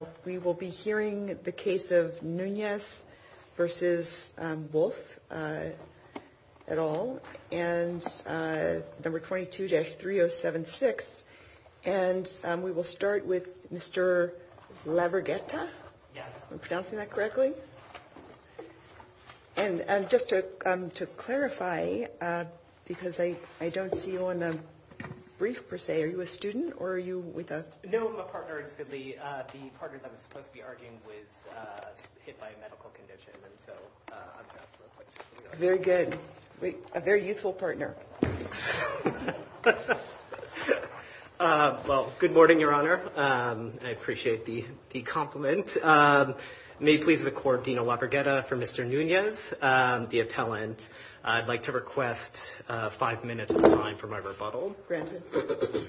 22-3076, and we will start with Mr. Laverghetta, if I'm pronouncing that correctly. And just to clarify, because I don't see you on the brief per se, are you a student or are you with us? I'm sorry, I was supposed to be arguing with, hit by a medical condition. Very good. A very useful partner. Well, good morning, Your Honor. I appreciate the compliment. May it please the Court, Dean Laverghetta, for Mr. Nunez, the appellant, I'd like to request five minutes of your time for my rebuttal. Granted.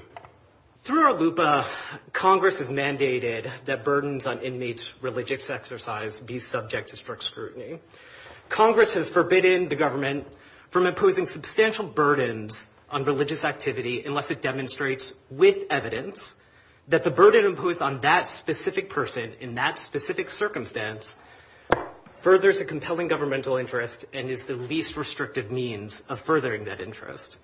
Through our LUPA, Congress has mandated that burdens on inmates' religious exercise be subject to strict scrutiny. Congress has forbidden the government from imposing substantial burdens on religious activity unless it demonstrates with evidence that the burden imposed on that specific person in that specific circumstance furthers a compelling governmental interest and is the least restrictive means of furthering that interest.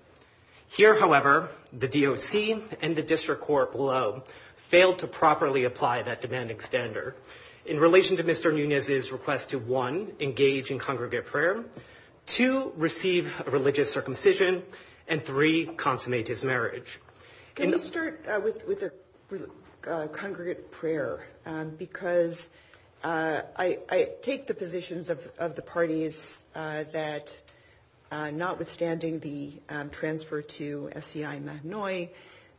Here, however, the DOC and the District Court below fail to properly apply that demanding standard. In relation to Mr. Nunez's request to, one, engage in congregate prayer, two, receive a religious circumcision, and three, consummate his marriage. Can we start with the congregate prayer? Because I take the positions of the parties that, notwithstanding the transfer to SCI Illinois,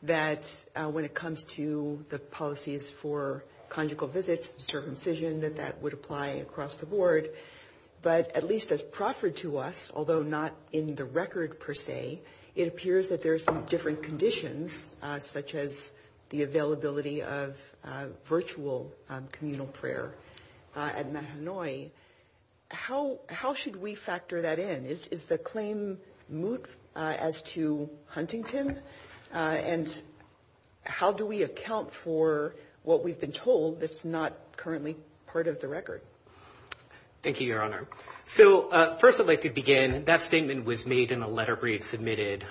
that when it comes to the policies for conjugal visits, circumcision, that that would apply across the board. But at least as proffered to us, although not in the record per se, it appears that there are some different conditions, such as the availability of virtual communal prayer at Mahanoy. How should we factor that in? Is the claim moot as to Huntington? And how do we account for what we've been told that's not currently part of the record? Thank you, Your Honor. So first, if I could begin, that statement was made in a letter we had submitted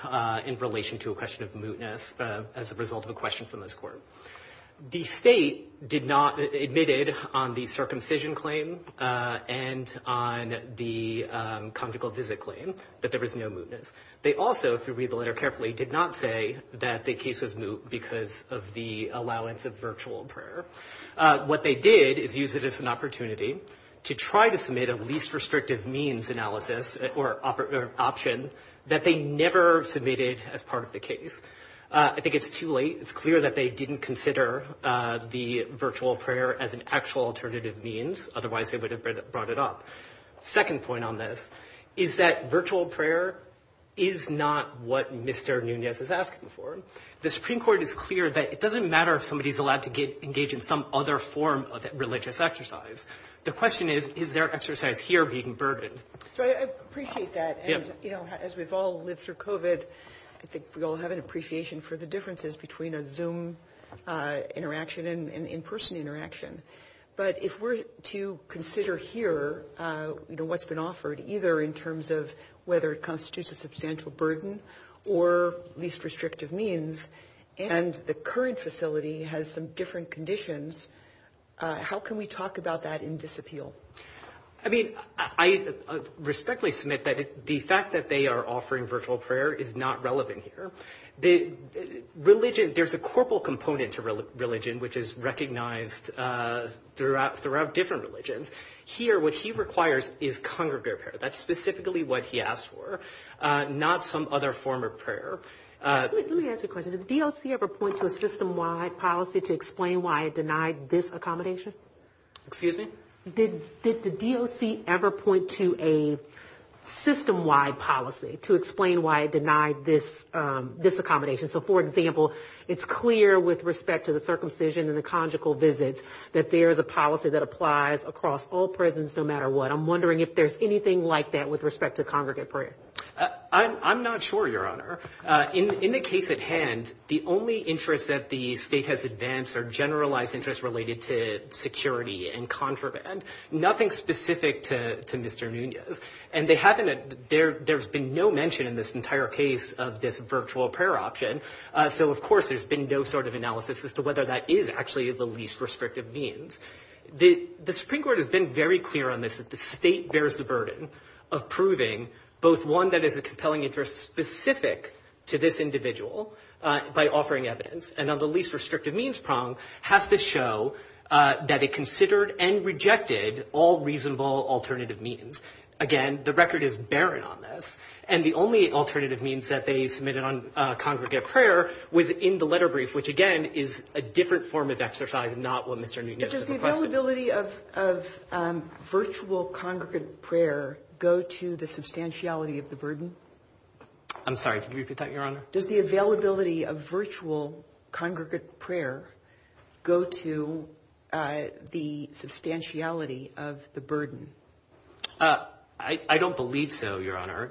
in relation to a question of mootness as a result of a question from this court. The state admitted on the circumcision claim and on the conjugal visit claim that there was no mootness. They also, if you read the letter carefully, did not say that the case was moot because of the allowance of virtual prayer. What they did is use it as an opportunity to try to submit a least restrictive means analysis or option that they never submitted as part of the case. I think it's too late. It's clear that they didn't consider the virtual prayer as an actual alternative means. Otherwise, they would have brought it up. Second point on this is that virtual prayer is not what Mr. Nunez is asking for. The Supreme Court is clear that it doesn't matter if somebody is allowed to engage in some other form of religious exercise. The question is, is there exercise here being burdened? I appreciate that. As we've all lived through COVID, I think we all have an appreciation for the differences between a Zoom interaction and in-person interaction. But if we're to consider here what's been offered, either in terms of whether it constitutes a substantial burden or least restrictive means, and the current facility has some different conditions, how can we talk about that in this appeal? I mean, I respectfully submit that the fact that they are offering virtual prayer is not relevant here. Religion, there's a corporal component to religion, which is recognized throughout different religions. Here, what he requires is congregate prayer. That's specifically what he asked for, not some other form of prayer. Let me ask you a question. Did the DOC ever point to a system-wide policy to explain why it denied this accommodation? Excuse me? Did the DOC ever point to a system-wide policy to explain why it denied this accommodation? So, for example, it's clear with respect to the circumcision and the conjugal visits that there is a policy that applies across all prisons no matter what. I'm wondering if there's anything like that with respect to congregate prayer. In the case at hand, the only interests that the state has advanced are generalized interests related to security and contraband, nothing specific to Mr. Munoz, and there's been no mention in this entire case of this virtual prayer option. So, of course, there's been no sort of analysis as to whether that is actually the least restrictive means. The Supreme Court has been very clear on this. The state bears the burden of proving both one that is a compelling interest specific to this individual by offering evidence, and then the least restrictive means prong has to show that it considered and rejected all reasonable alternative means. Again, the record is barren on this, and the only alternative means that they submitted on congregate prayer was in the letter brief, which, again, is a different form of exercise, not what Mr. Munoz requested. Does the availability of virtual congregate prayer go to the substantiality of the burden? I'm sorry, repeat that, Your Honor. Does the availability of virtual congregate prayer go to the substantiality of the burden? I don't believe so, Your Honor.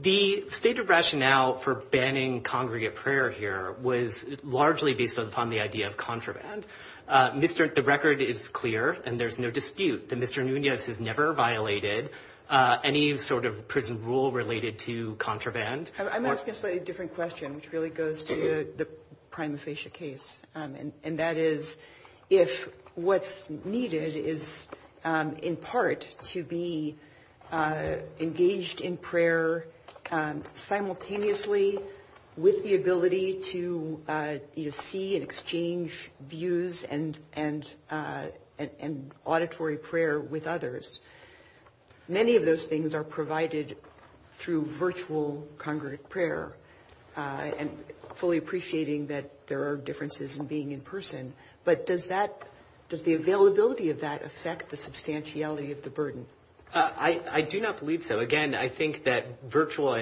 The state of rationale for banning congregate prayer here was largely based upon the idea of contraband. The record is clear, and there's no dispute that Mr. Munoz has never violated any sort of prison rule related to contraband. I'm asking a slightly different question, which really goes to the prime facie case, and that is if what's needed is, in part, to be engaged in prayer simultaneously with the ability to see and exchange views and auditory prayer with others, many of those things are provided through virtual congregate prayer and fully appreciating that there are differences in being in person. But does the availability of that affect the substantiality of the burden? I do not believe so. Again, I think that virtual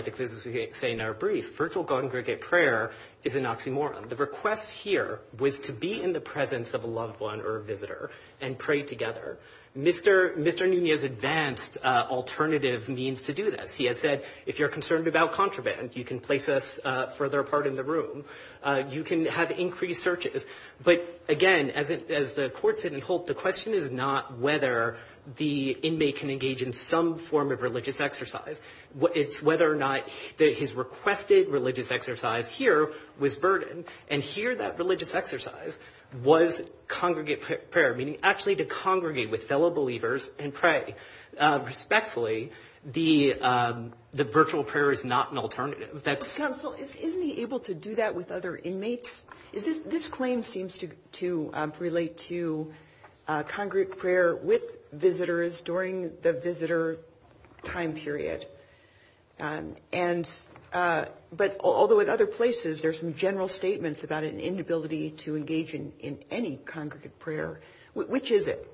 congregate prayer is an oxymoron. The request here was to be in the presence of a loved one or a visitor and pray together. Mr. Munoz advanced alternative means to do this. He has said, if you're concerned about contraband, you can place us further apart in the room. You can have increased searches. But, again, as the court said in Holt, the question is not whether the inmate can engage in some form of religious exercise. It's whether or not his requested religious exercise here was burdened, and here that religious exercise was congregate prayer, meaning actually to congregate with fellow believers and pray respectfully. The virtual prayer is not an alternative. Counsel, is he able to do that with other inmates? This claim seems to relate to congregate prayer with visitors during the visitor time period. But although in other places there's some general statements about an inability to engage in any congregate prayer, which is it?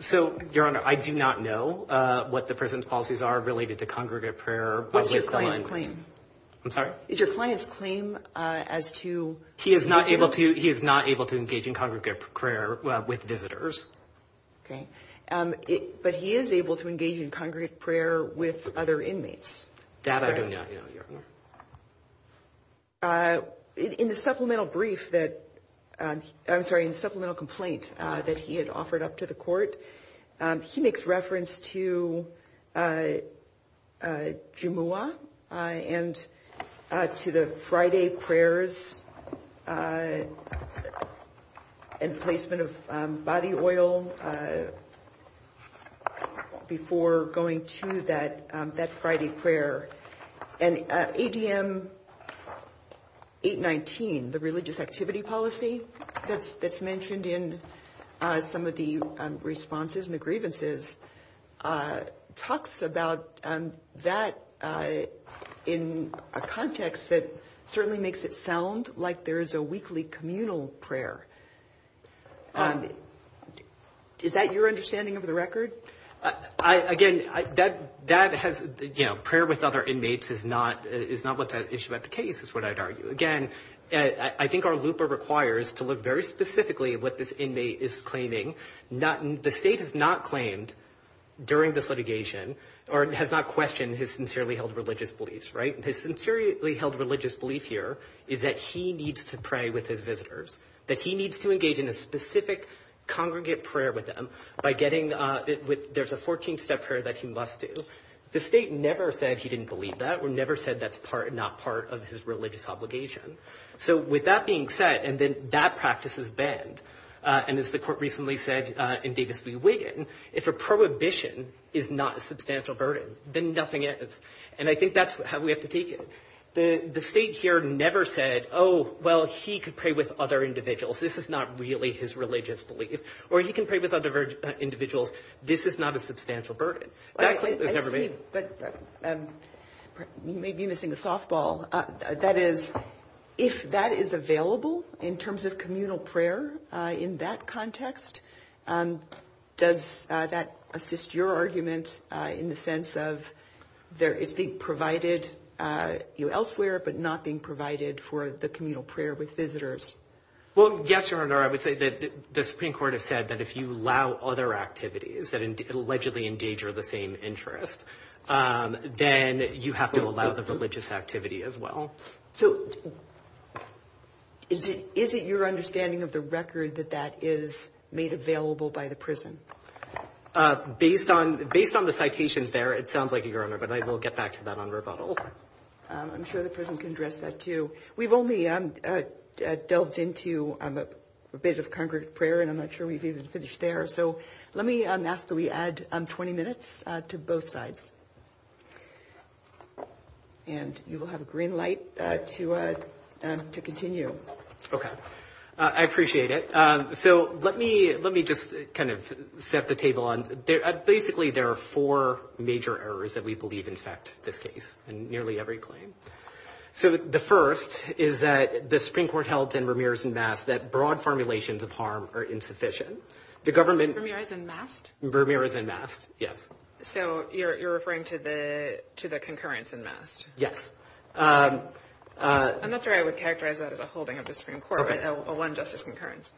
So, Your Honor, I do not know what the prison's policies are related to congregate prayer. What's your client's claim? I'm sorry? Is your client's claim as to- He is not able to engage in congregate prayer with visitors. Okay. But he is able to engage in congregate prayer with other inmates. That I do not know, Your Honor. In the supplemental brief that-I'm sorry, in the supplemental complaint that he had offered up to the court, he makes reference to Jumu'ah and to the Friday prayers and placement of body oil before going to that Friday prayer. And ADM 819, the religious activity policy that's mentioned in some of the responses and the grievances, talks about that in a context that certainly makes it sound like there's a weekly communal prayer. Is that your understanding of the record? Again, that has-prayer with other inmates is not what's at issue with the case, is what I'd argue. Again, I think our looper requires to look very specifically at what this inmate is claiming. The state has not claimed during this litigation or has not questioned his sincerely held religious beliefs, right? His sincerely held religious belief here is that he needs to pray with his visitors, that he needs to engage in a specific congregate prayer with them by getting-there's a 14-step prayer that he must do. The state never said he didn't believe that or never said that's not part of his religious obligation. So with that being said, and then that practice is banned, and as the court recently said in Davis v. Wiggin, if a prohibition is not a substantial burden, then nothing is. And I think that's how we have to take it. The state here never said, oh, well, he could pray with other individuals. This is not really his religious belief. Or he can pray with other individuals. This is not a substantial burden. That claim was never made. You may be missing the softball. That is, if that is available in terms of communal prayer in that context, does that assist your argument in the sense of it being provided elsewhere but not being provided for the communal prayer with visitors? Well, yes, Your Honor. I would say that the Supreme Court has said that if you allow other activities that allegedly endanger the same interest, then you have to allow the religious activity as well. So is it your understanding of the record that that is made available by the prison? Based on the citations there, it sounds like it, Your Honor, but we'll get back to that on rebuttal. I'm sure the prison can address that too. We've only delved into a bit of congregate prayer, and I'm not sure we've even finished there. So let me ask that we add 20 minutes to both sides. And you will have a green light to continue. Okay. I appreciate it. So let me just kind of set the table. Basically, there are four major errors that we believe in fact this case in nearly every claim. So the first is that the Supreme Court held in Vermeers and Mast that broad formulations of harm are insufficient. Vermeers and Mast? Vermeers and Mast, yes. So you're referring to the concurrence in Mast? Yes. I'm not sure I would characterize that as a holding of the Supreme Court, but a one-justice concurrence.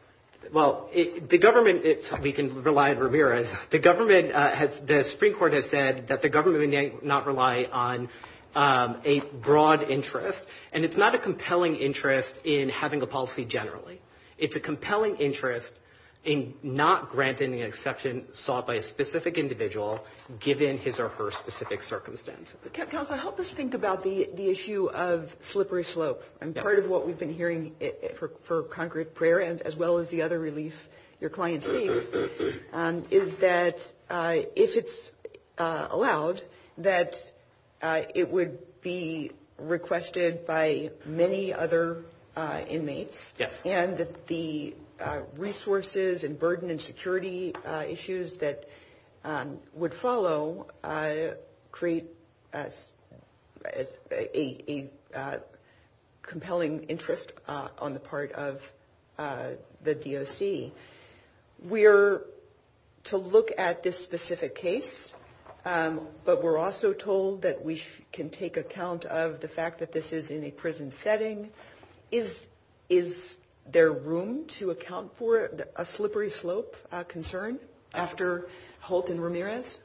Well, the government, we can rely on Vermeers. The Supreme Court has said that the government may not rely on a broad interest, and it's not a compelling interest in having a policy generally. It's a compelling interest in not granting the exception sought by a specific individual given his or her specific circumstance. Counsel, help us think about the issue of slippery slopes. And part of what we've been hearing for concrete prayer, as well as the other release your client sees, is that if it's allowed, that it would be requested by many other inmates. Yes. And the resources and burden and security issues that would follow create a compelling interest on the part of the DOC. We are to look at this specific case, but we're also told that we can take account of the fact that this is in a prison setting. Is there room to account for a slippery slope concern after Holt and Vermeers?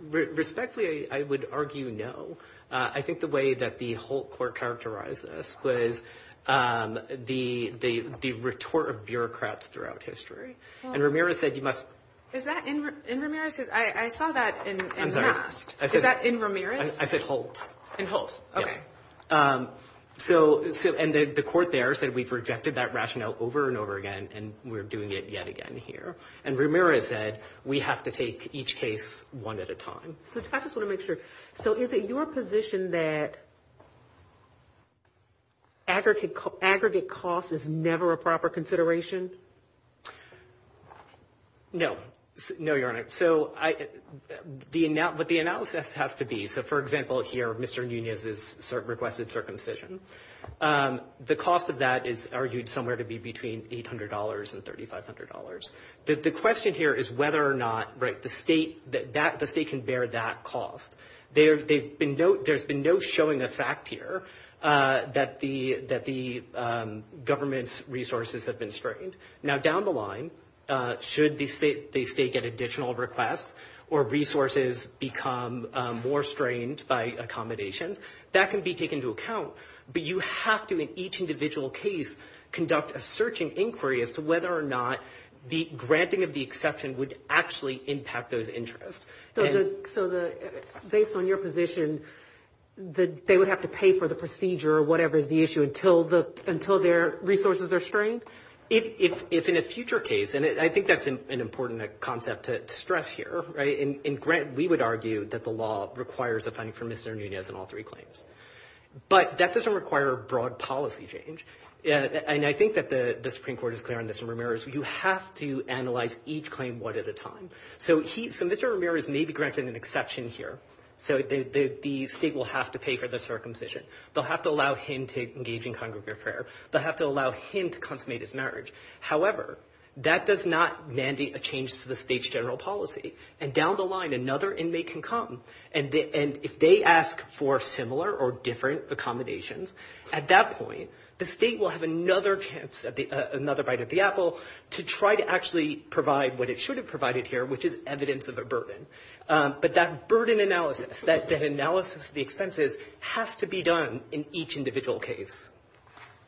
Respectfully, I would argue no. I think the way that the Holt court characterized this was the retort of bureaucrats throughout history. And Vermeers said you must – Is that in Vermeers? I saw that in Holt. Is that in Vermeers? I said Holt. In Holt. Okay. And the court there said we've rejected that rationale over and over again, and we're doing it yet again here. And Vermeers said we have to take each case one at a time. I just want to make sure. So is it your position that aggregate cost is never a proper consideration? No. No, Your Honor. So what the analysis has to be – so, for example, here, Mr. Nunez has requested circumcision. The cost of that is argued somewhere to be between $800 and $3,500. The question here is whether or not the state can bear that cost. There's been no showing of fact here that the government's resources have been strained. Now, down the line, should the state get additional requests or resources become more strained by accommodation, that can be taken into account, but you have to, in each individual case, conduct a search and inquiry as to whether or not the granting of the exception would actually impact those interests. So based on your position, they would have to pay for the procedure or whatever the issue until their resources are strained? It's in a future case, and I think that's an important concept to stress here. And we would argue that the law requires a funding from Mr. Nunez in all three claims. But that doesn't require a broad policy change, and I think that the Supreme Court is clear on this, and Vermeer is you have to analyze each claim one at a time. So Mr. Vermeer is maybe granted an exception here, so the state will have to pay for the circumcision. They'll have to allow him to engage in congregate prayer. They'll have to allow him to consummate his marriage. However, that does not mandate a change to the state's general policy, and down the line, another inmate can come, and if they ask for similar or different accommodations, at that point, the state will have another chance, another bite of the apple to try to actually provide what it should have provided here, which is evidence of a burden. But that burden analysis, that analysis of the expenses has to be done in each individual case.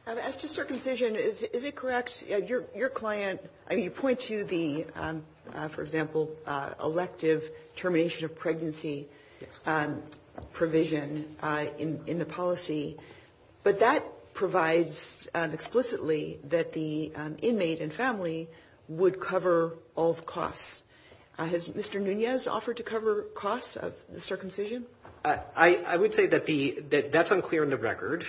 As to circumcision, is it correct, your client, I mean, he points to the, for example, elective termination of pregnancy provision in the policy, but that provides explicitly that the inmate and family would cover all the costs. Has Mr. Nunez offered to cover costs of circumcision? I would say that that's unclear in the record.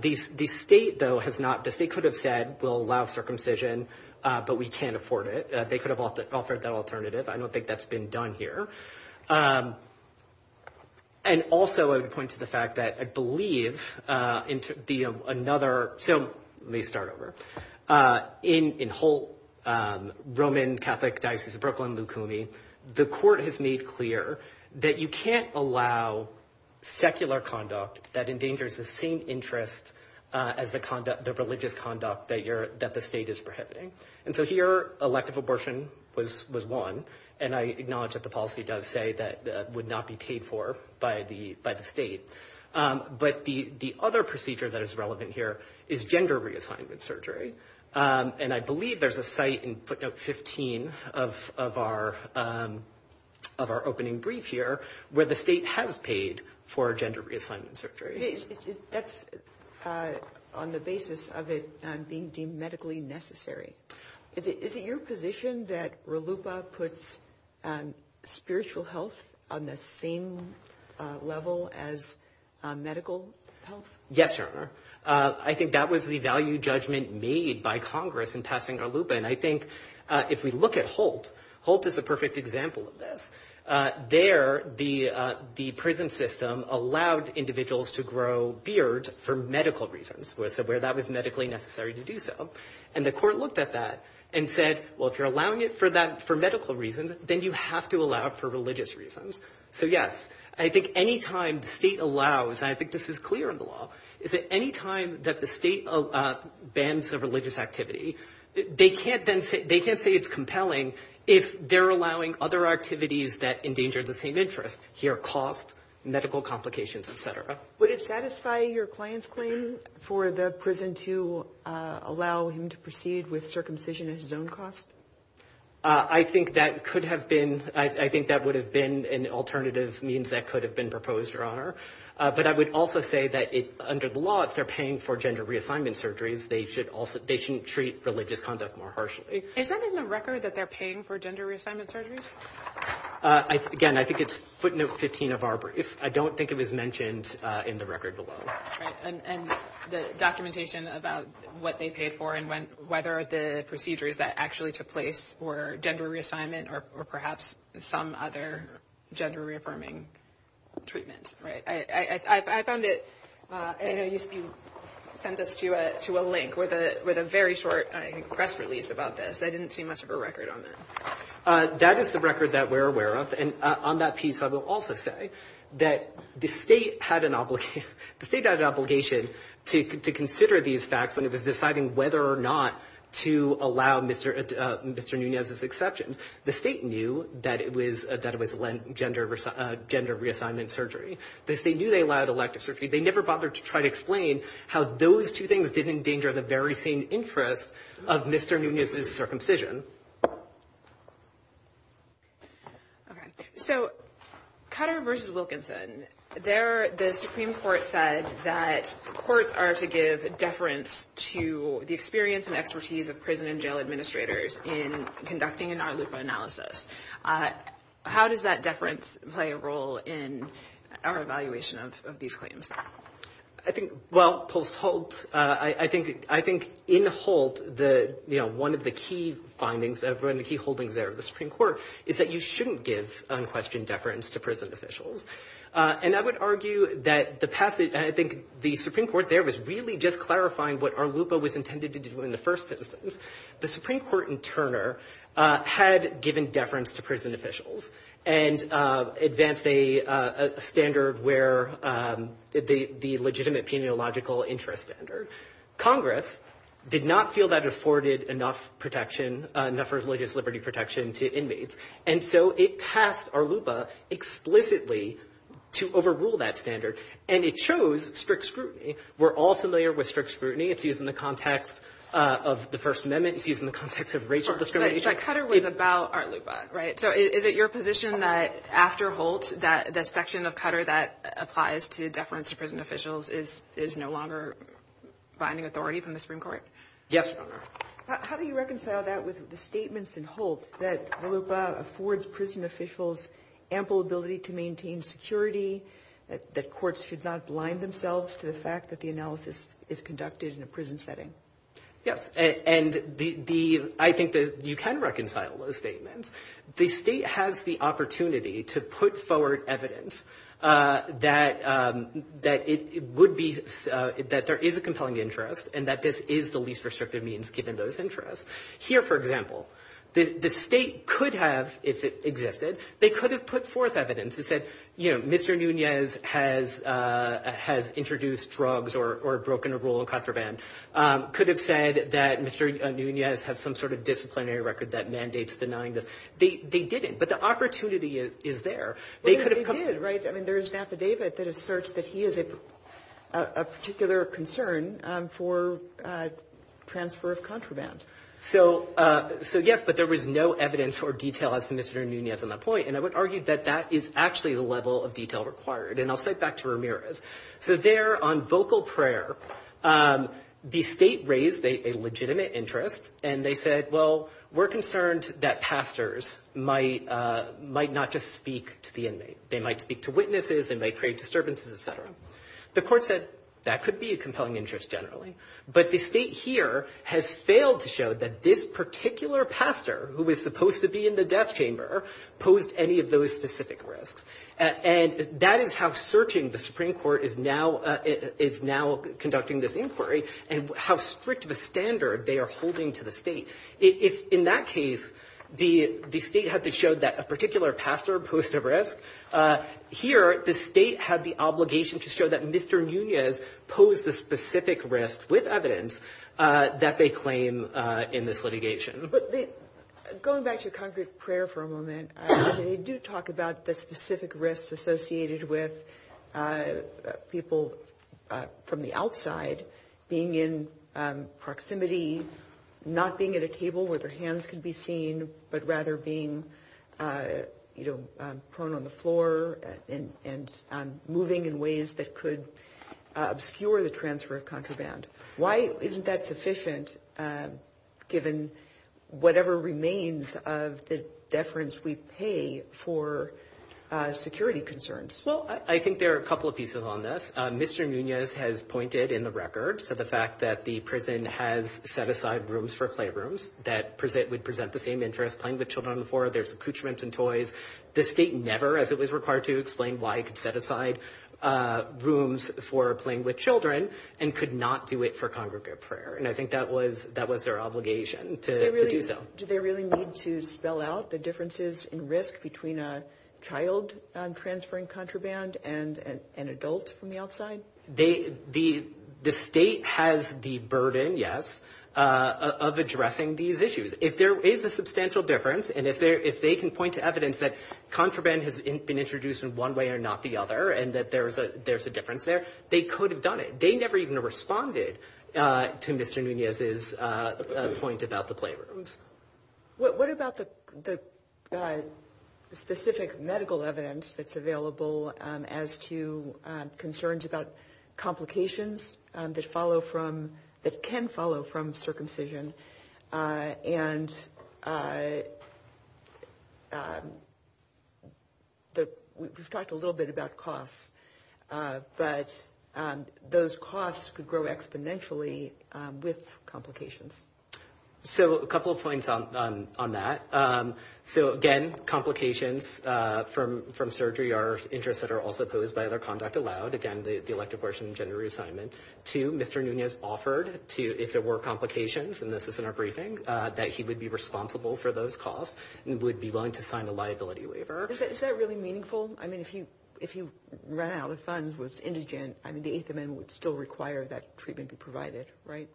The state, though, has not. The state could have said we'll allow circumcision, but we can't afford it. They could have offered that alternative. I don't think that's been done here. And also I would point to the fact that I believe in another, so let me start over. In Holt, Roman Catholic diocese of Brooklyn-Lucuni, the court has made clear that you can't allow secular conduct that endangers the same interests as the religious conduct that the state is prohibiting. And so here elective abortion was one, and I acknowledge that the policy does say that would not be paid for by the state. But the other procedure that is relevant here is gender reassignment surgery, and I believe there's a site in footnote 15 of our opening brief here where the state has paid for gender reassignment surgery. That's on the basis of it being deemed medically necessary. Is it your position that RLUIPA puts spiritual health on the same level as medical health? Yes, Your Honor. I think that was the value judgment made by Congress in passing RLUIPA, and I think if we look at Holt, Holt is a perfect example of this. There, the prison system allowed individuals to grow beards for medical reasons, where that was medically necessary to do so. And the court looked at that and said, well, if you're allowing it for medical reasons, then you have to allow it for religious reasons. So, yes, I think any time the state allows, and I think this is clear in the law, is that any time that the state bans a religious activity, they can't say it's compelling if they're allowing other activities that endanger the same interest, here, cost, medical complications, et cetera. Would it satisfy your client's claim for the prison to allow him to proceed with circumcision at his own cost? I think that would have been an alternative means that could have been proposed, Your Honor. But I would also say that under the law, if they're paying for gender reassignment surgeries, they shouldn't treat religious conduct more harshly. Is that in the record that they're paying for gender reassignment surgeries? Again, I think it's footnote 15 of our brief. I don't think it is mentioned in the record below. And the documentation about what they paid for and whether the procedures that actually took place were gender reassignment or perhaps some other gender-reaffirming treatment. I found it, and I know you sent this to a link with a very short press release about this. I didn't see much of a record on this. That is the record that we're aware of. And on that piece, I will also say that the state had an obligation to consider these facts when it was deciding whether or not to allow Mr. Nunez's exception. The state knew that it was gender reassignment surgery. The state knew they allowed elective surgery. They never bothered to try to explain how those two things didn't endanger the very same interest of Mr. Nunez's circumcision. So, Cutter v. Wilkinson. The Supreme Court said that courts are to give deference to the experience and expertise of prison and jail administrators in conducting an ARLUPA analysis. How does that deference play a role in our evaluation of these claims? Well, I think in Holt, one of the key findings, one of the key holdings there of the Supreme Court is that you shouldn't give unquestioned deference to prison officials. And I would argue that the Supreme Court there was really just clarifying what ARLUPA was intended to do in the first instance. The Supreme Court in Turner had given deference to prison officials and advanced a standard where the legitimate peniological interest standard. Congress did not feel that afforded enough protection, enough religious liberty protection to inmates. And so it passed ARLUPA explicitly to overrule that standard. And it chose strict scrutiny. We're all familiar with strict scrutiny. It's used in the context of the First Amendment. It's used in the context of racial discrimination. So, Cutter was about ARLUPA, right? So, is it your position that after Holt, that section of Cutter that applies to deference to prison officials is no longer binding authority from the Supreme Court? Yes. How do you reconcile that with the statements in Holt that ARLUPA affords prison officials ample ability to maintain security, that courts should not blind themselves to the fact that the analysis is conducted in a prison setting? Yes. And I think that you can reconcile those statements. The state has the opportunity to put forward evidence that there is a compelling interest and that this is the least restrictive means given those interests. Here, for example, the state could have, if it existed, they could have put forth evidence and said, you know, Mr. Núñez has introduced drugs or broken a rule on contraband. Could have said that Mr. Núñez has some sort of disciplinary record that mandates denying this. They didn't, but the opportunity is there. They could have... They did, right? I mean, there is an affidavit that asserts that he is of particular concern for transfer of contraband. So, yes, but there was no evidence or detail as to Mr. Núñez on the point. And I would argue that that is actually the level of detail required. And I'll say it back to Ramirez. So there on vocal prayer, the state raised a legitimate interest and they said, well, we're concerned that pastors might not just speak to the inmate. They might speak to witnesses and they create disturbances, et cetera. The court said that could be a compelling interest generally. But the state here has failed to show that this particular pastor, who was supposed to be in the death chamber, posed any of those specific risks. And that is how searching the Supreme Court is now conducting this inquiry and how strict of a standard they are holding to the state. In that case, the state had to show that a particular pastor posed a risk. Here, the state had the obligation to show that Mr. Núñez posed a specific risk with evidence that they claim in this litigation. Going back to concrete prayer for a moment, they do talk about the specific risks associated with people from the outside being in proximity, not being at a table where their hands can be seen, but rather being prone on the floor and moving in ways that could obscure the transfer of contraband. Why isn't that sufficient given whatever remains of the deference we pay for security concerns? Well, I think there are a couple of pieces on this. Mr. Núñez has pointed in the record to the fact that the prison has set aside rooms for playrooms that would present the same interest, playing with children on the floor, there's accoutrements and toys. The state never, as it was required to, explained why it could set aside rooms for playing with children and could not do it for congregate prayer. And I think that was their obligation to do so. Do they really need to spell out the differences in risk between a child transferring contraband and an adult from the outside? The state has the burden, yes, of addressing these issues. If there is a substantial difference and if they can point to evidence that contraband has been introduced in one way or not the other and that there's a difference there, they could have done it. They never even responded to Mr. Núñez's point about the playrooms. What about the specific medical evidence that's available as to concerns about complications that can follow from circumcision? And we've talked a little bit about costs, but those costs could grow exponentially with complications. So a couple of points on that. So, again, complications from surgery are interests that are also posed by the elective abortion and gender reassignment. Two, Mr. Núñez offered, if there were complications, and this is in our briefing, that he would be responsible for those costs and would be willing to sign a liability waiver. Is that really meaningful? I mean, if he ran out of funds, was indigent, the Eighth Amendment would still require that treatment be provided, right?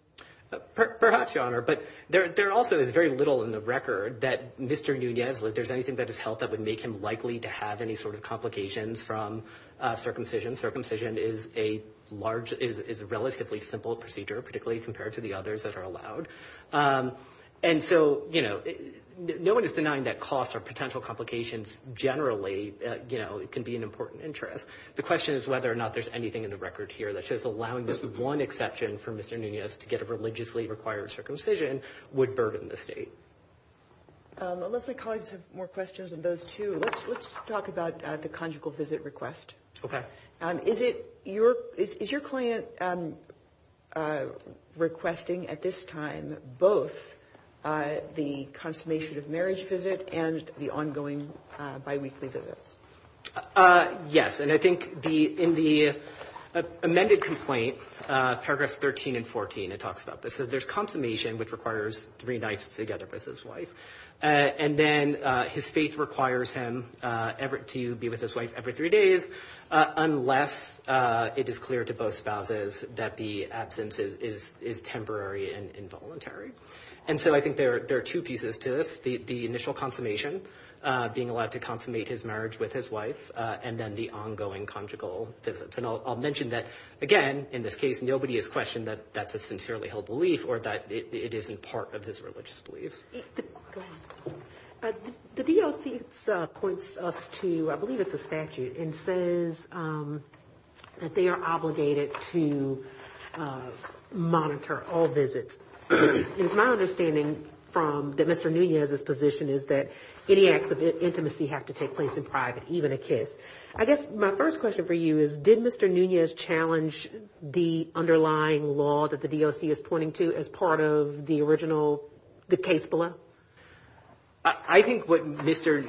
Perhaps, Your Honor. But there also is very little in the record that Mr. Núñez, if there's anything that has helped that would make him likely to have any sort of complications from circumcision. Circumcision is a relatively simple procedure, particularly compared to the others that are allowed. And so, you know, no one is denying that costs or potential complications generally can be an important interest. The question is whether or not there's anything in the record here that says allowing this one exception for Mr. Núñez to get a religiously required circumcision would burden the state. Let's say colleagues have more questions on those two. Let's talk about the conjugal visit request. Okay. Is your client requesting at this time both the consummation of marriage visit and the ongoing biweekly visit? Yes. And I think in the amended complaint, paragraphs 13 and 14, it talks about this. It says there's consummation, which requires three nights together with his wife. And then his faith requires him to be with his wife every three days, unless it is clear to both spouses that the absence is temporary and involuntary. And so I think there are two pieces to this, the initial consummation, being allowed to consummate his marriage with his wife, and then the ongoing conjugal visits. And I'll mention that, again, in this case, nobody has questioned that that's a sincerely held belief or that it isn't part of his religious belief. The DOC points us to, I believe it's a statute, and says that they are obligated to monitor all visits. And my understanding from Mr. Núñez's position is that any acts of intimacy have to take place in private, even a kiss. I guess my first question for you is, did Mr. Núñez challenge the underlying law that the DOC is pointing to as part of the original case below? I think what Mr.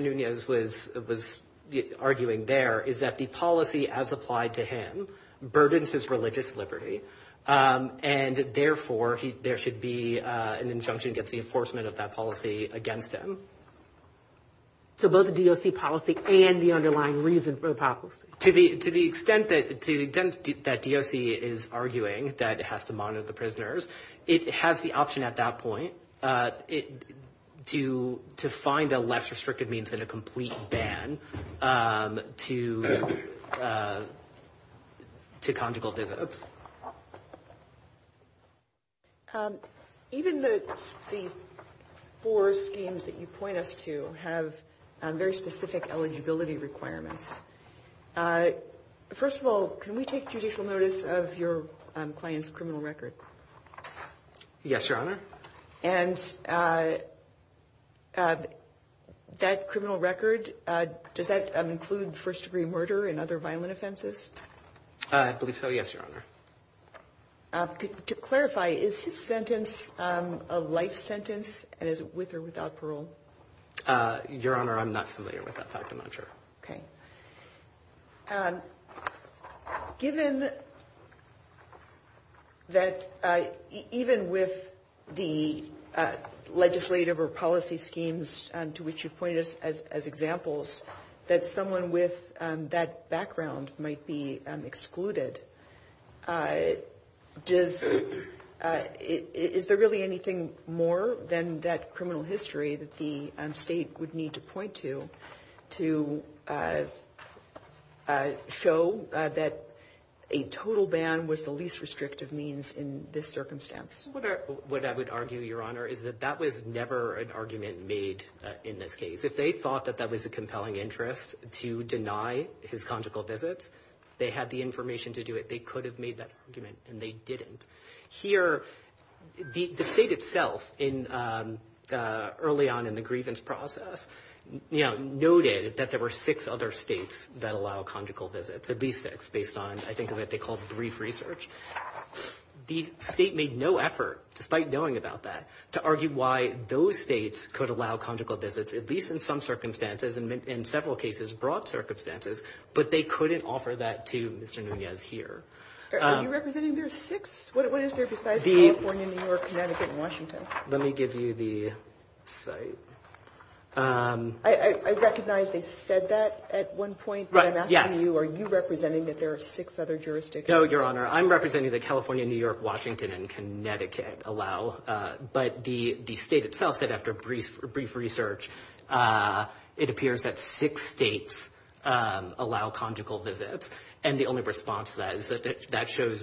Núñez was arguing there is that the policy as applied to him burdens his religious liberty, and therefore there should be an injunction against the enforcement of that policy against him. So both the DOC policy and the underlying reason for the policy. To the extent that DOC is arguing that it has to monitor the prisoners, it has the option at that point to find a less restrictive means than a complete ban to conjugal visits. Even the four schemes that you point us to have very specific eligibility requirements. First of all, can we take judicial notice of your client's criminal record? Yes, Your Honor. And that criminal record, does that include first-degree murder and other violent offenses? I believe so, yes, Your Honor. To clarify, is his sentence a life sentence, and is it with or without parole? Your Honor, I'm not familiar with that type, and I'm not sure. Okay. Given that even with the legislative or policy schemes to which you point us as examples, that someone with that background might be excluded, is there really anything more than that criminal history that the state would need to point to to show that a total ban was the least restrictive means in this circumstance? What I would argue, Your Honor, is that that was never an argument made in this case. If they thought that that was a compelling interest to deny his conjugal visits, they had the information to do it. They could have made that argument, and they didn't. Here, the state itself, early on in the grievance process, noted that there were six other states that allow conjugal visits, at least six based on, I think, what they called brief research. The state made no effort, despite knowing about that, to argue why those states could allow conjugal visits, at least in some circumstances, and in several cases, broad circumstances, but they couldn't offer that to Mr. Nunez here. Are you representing your six? What is there besides California, New York, Connecticut, and Washington? Let me give you the site. I recognize they said that at one point, but I'm asking you, are you representing that there are six other jurisdictions? No, Your Honor. I'm representing that California, New York, Washington, and Connecticut allow, but the state itself said after brief research, it appears that six states allow conjugal visits, and the only response to that is that that shows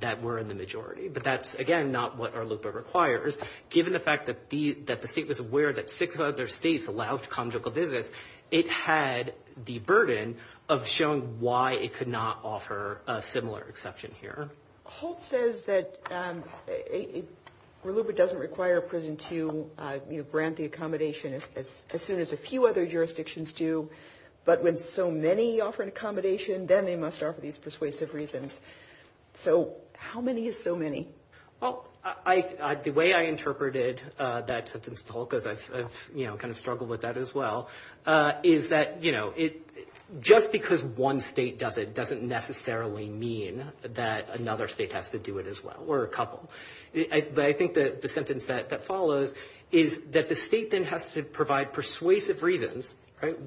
that we're in the majority. But that's, again, not what our loophole requires. Given the fact that the state was aware that six other states allowed conjugal visits, it had the burden of showing why it could not offer a similar exception here. Holt says that RELUPA doesn't require a prison to grant the accommodation as soon as a few other jurisdictions do, but when so many offer an accommodation, then they must offer these persuasive reasons. So how many is so many? The way I interpreted that to Mr. Holt, because I kind of struggled with that as well, is that just because one state does it doesn't necessarily mean that another state has to do it as well, or a couple. But I think that the sentence that follows is that the state then has to provide persuasive reasons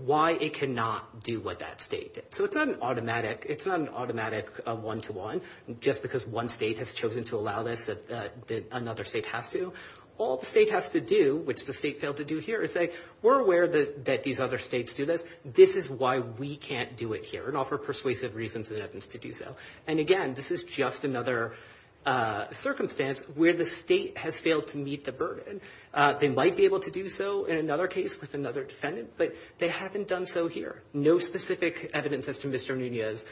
why it cannot do what that state did. So it's not an automatic one-to-one just because one state has chosen to allow this that another state has to. All the state has to do, which the state failed to do here, is say, we're aware that these other states do this. This is why we can't do it here, and offer persuasive reasons to do so. And, again, this is just another circumstance where the state has failed to meet the burden. They might be able to do so in another case with another defendant, but they haven't done so here. No specific evidence as to Mr. Nunez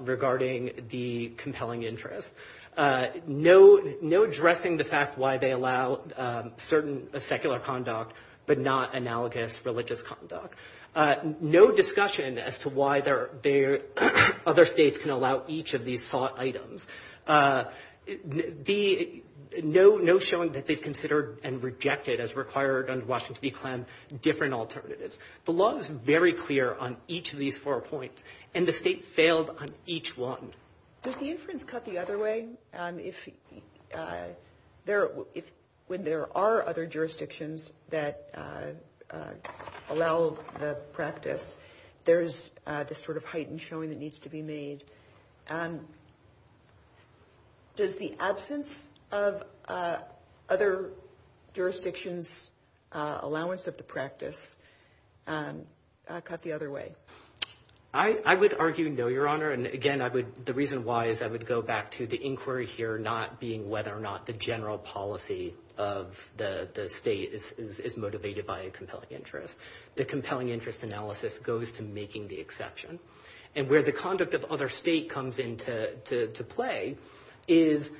regarding the compelling interest. No addressing the fact why they allow certain secular conduct, but not analogous religious conduct. No discussion as to why other states can allow each of these thought items. No showing that they've considered and rejected as required under Washington v. Clem different alternatives. The law is very clear on each of these four points, and the state failed on each one. Does the inference cut the other way? When there are other jurisdictions that allow the practice, there's this sort of heightened showing that needs to be made. Does the absence of other jurisdictions' allowance of the practice cut the other way? I would argue no, Your Honor. And, again, the reason why is I would go back to the inquiry here, not being whether or not the general policy of the state is motivated by a compelling interest. The compelling interest analysis goes to making the exception. And where the conduct of other states comes into play is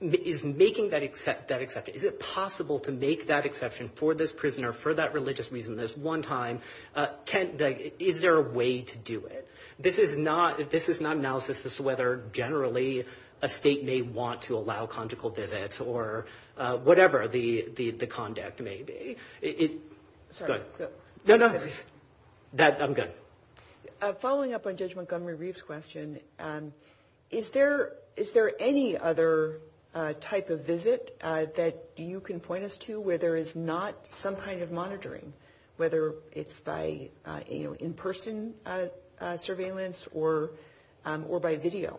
making that exception. Is it possible to make that exception for this prisoner for that religious reason? This one time, is there a way to do it? This is not analysis as to whether generally a state may want to allow conjugal visits or whatever the conduct may be. Sorry. No, no. I'm done. Following up on Judge Montgomery-Reeve's question, is there any other type of visit that you can point us to where there is not some kind of monitoring, whether it's by in-person surveillance or by video?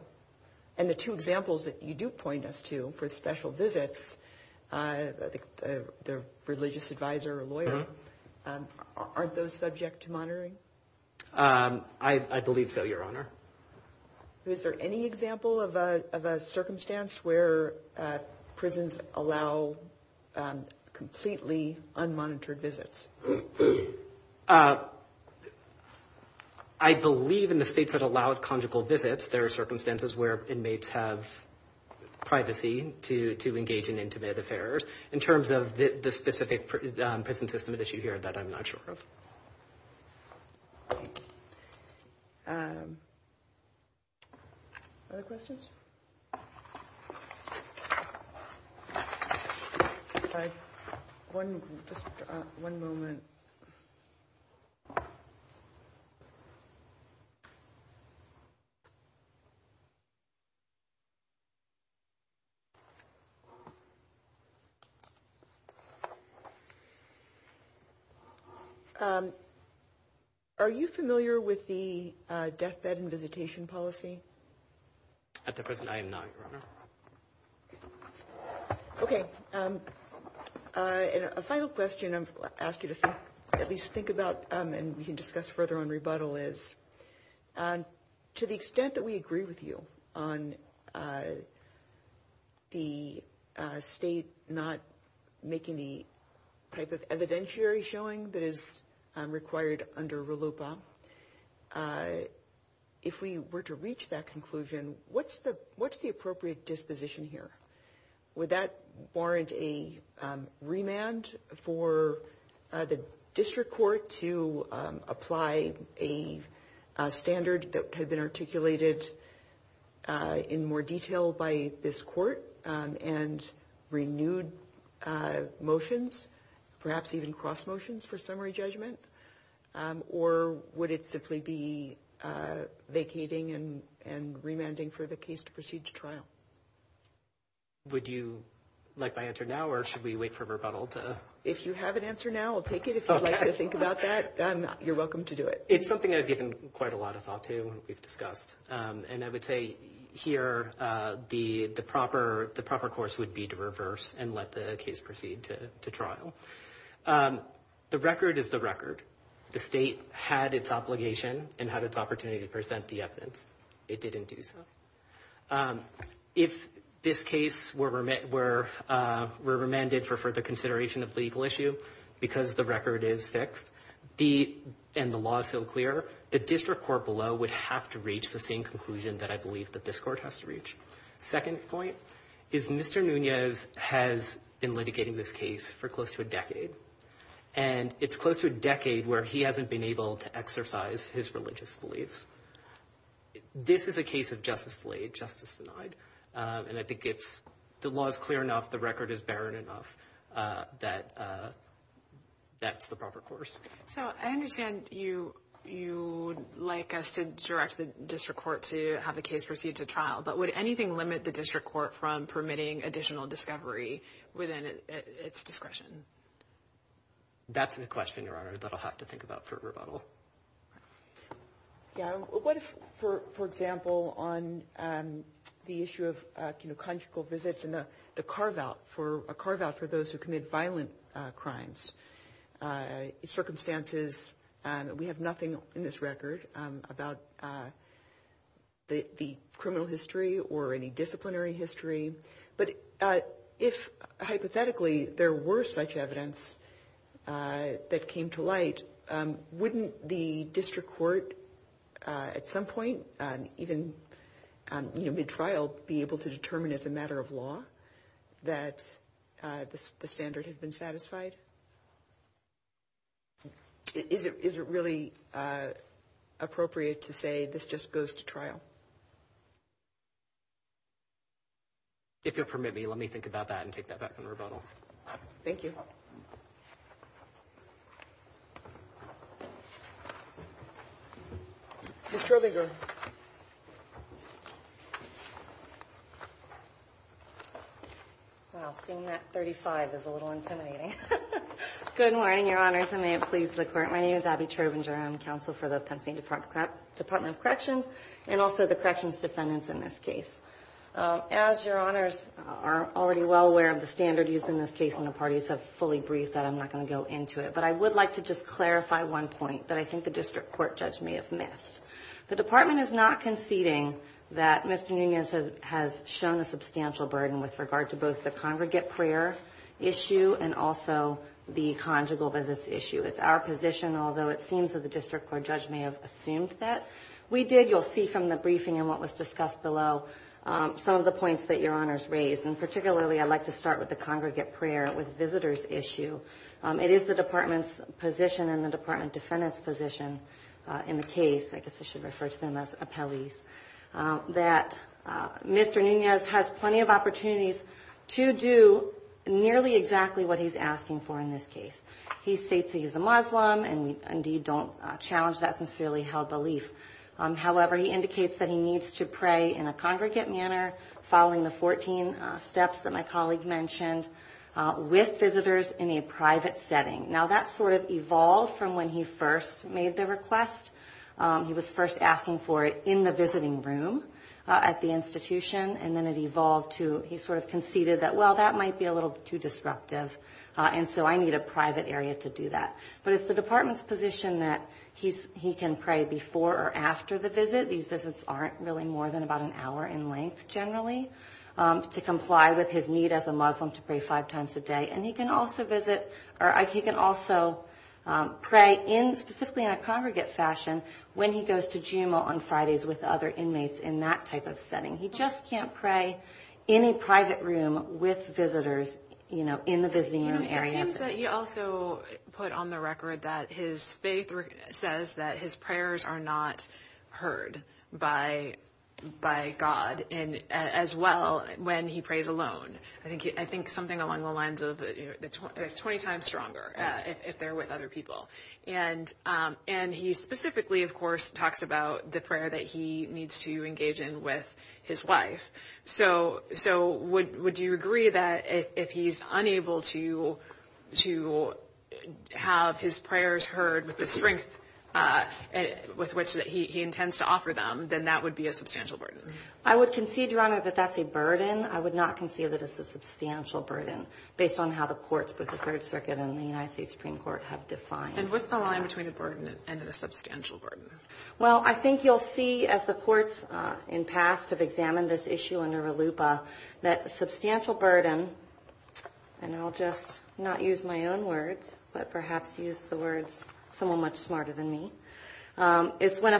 And the two examples that you do point us to for special visits, the religious advisor or lawyer, aren't those subject to monitoring? I believe so, Your Honor. Is there any example of a circumstance where prisons allow completely unmonitored visits? I believe in the states that allow conjugal visits, there are circumstances where inmates have privacy to engage in intimate affairs, in terms of the specific prison system at issue here that I'm not sure of. Other questions? Just one moment. Are you familiar with the death bed and visitation policy? At the present time, no, Your Honor. Okay. A final question I'm going to ask you to at least think about and we can discuss further on rebuttal is, to the extent that we agree with you on the state not making the type of evidentiary showing that is required under RLUPA, if we were to reach that conclusion, what's the appropriate disposition here? Would that warrant a remand for the district court to apply a standard that had been articulated in more detail by this court and renewed motions, perhaps even cross motions for summary judgment? Or would it simply be vacating and remanding for the case to proceed to trial? Would you like my answer now or should we wait for rebuttal? If you have an answer now, I'll take it. If you'd like to think about that, you're welcome to do it. It's something I've given quite a lot of thought to and we've discussed. And I would say here the proper course would be to reverse and let the case proceed to trial. The record is the record. The state had its obligation and had its opportunity to present the evidence. It didn't do so. If this case were remanded for further consideration of legal issue because the record is fixed and the law is still clear, the district court below would have to reach the same conclusion that I believe that this court has to reach. Second point is Mr. Nunez has been litigating this case for close to a decade. And it's close to a decade where he hasn't been able to exercise his religious beliefs. This is a case of justice delayed, justice denied. And I think the law is clear enough, the record is barren enough that that's the proper course. So I understand you'd like us to direct the district court to have the case proceed to trial. But would anything limit the district court from permitting additional discovery within its discretion? That's a question, Your Honor, that I'll have to think about for rebuttal. What if, for example, on the issue of conjugal visits and a carve-out for those who commit violent crimes, circumstances, we have nothing in this record about the criminal history or any disciplinary history. But if, hypothetically, there were such evidence that came to light, wouldn't the district court at some point, even mid-trial, be able to determine as a matter of law that the standard had been satisfied? Is it really appropriate to say this just goes to trial? If you'll permit me, let me think about that and take that back for rebuttal. Thank you. Ms. Terbinger. Well, seeing that 35 is a little intimidating. Good morning, Your Honors, and may it please the Court. My name is Abby Terbinger. I'm counsel for the Pensing Department of Corrections and also the corrections defendants in this case. As Your Honors are already well aware of the standard used in this case, and the parties have fully briefed that, I'm not going to go into it. But I would like to just clarify one point that I think the district court judge may have missed. The Department is not conceding that Mr. Nunez has shown a substantial burden with regard to both the congregate prayer issue and also the conjugal visits issue. It's our position, although it seems that the district court judge may have assumed that. We did, you'll see from the briefing and what was discussed below, some of the points that Your Honors raised. And particularly I'd like to start with the congregate prayer with visitors issue. It is the Department's position and the Department defendant's position in the case, I guess I should refer to them as appellees, that Mr. Nunez has plenty of opportunities to do nearly exactly what he's asking for in this case. He states that he's a Muslim and, indeed, don't challenge that sincerely held belief. However, he indicates that he needs to pray in a congregate manner, following the 14 steps that my colleague mentioned, with visitors in a private setting. Now, that sort of evolved from when he first made the request. He was first asking for it in the visiting room at the institution. And then it evolved to he sort of conceded that, well, that might be a little too disruptive. And so I need a private area to do that. But it's the Department's position that he can pray before or after the visit. These visits aren't really more than about an hour in length, generally, to comply with his need as a Muslim to pray five times a day. And he can also visit or he can also pray in specifically in a congregate fashion when he goes to GMO on Fridays with other inmates in that type of setting. He just can't pray in a private room with visitors, you know, in the visiting room area. He also put on the record that his faith says that his prayers are not heard by God, as well when he prays alone. I think something along the lines of 20 times stronger if they're with other people. And he specifically, of course, talked about the prayer that he needs to engage in with his wife. So would you agree that if he's unable to have his prayers heard with the strength with which he intends to offer them, then that would be a substantial burden? I would concede, Your Honor, that that's a burden. I would not concede that it's a substantial burden based on how the courts, as the Third Circuit and the United States Supreme Court have defined it. And what's the line between a burden and a substantial burden? Well, I think you'll see as the courts in past have examined this issue under RLUIPA that substantial burden, and I'll just not use my own words, but perhaps use the words of someone much smarter than me, is when a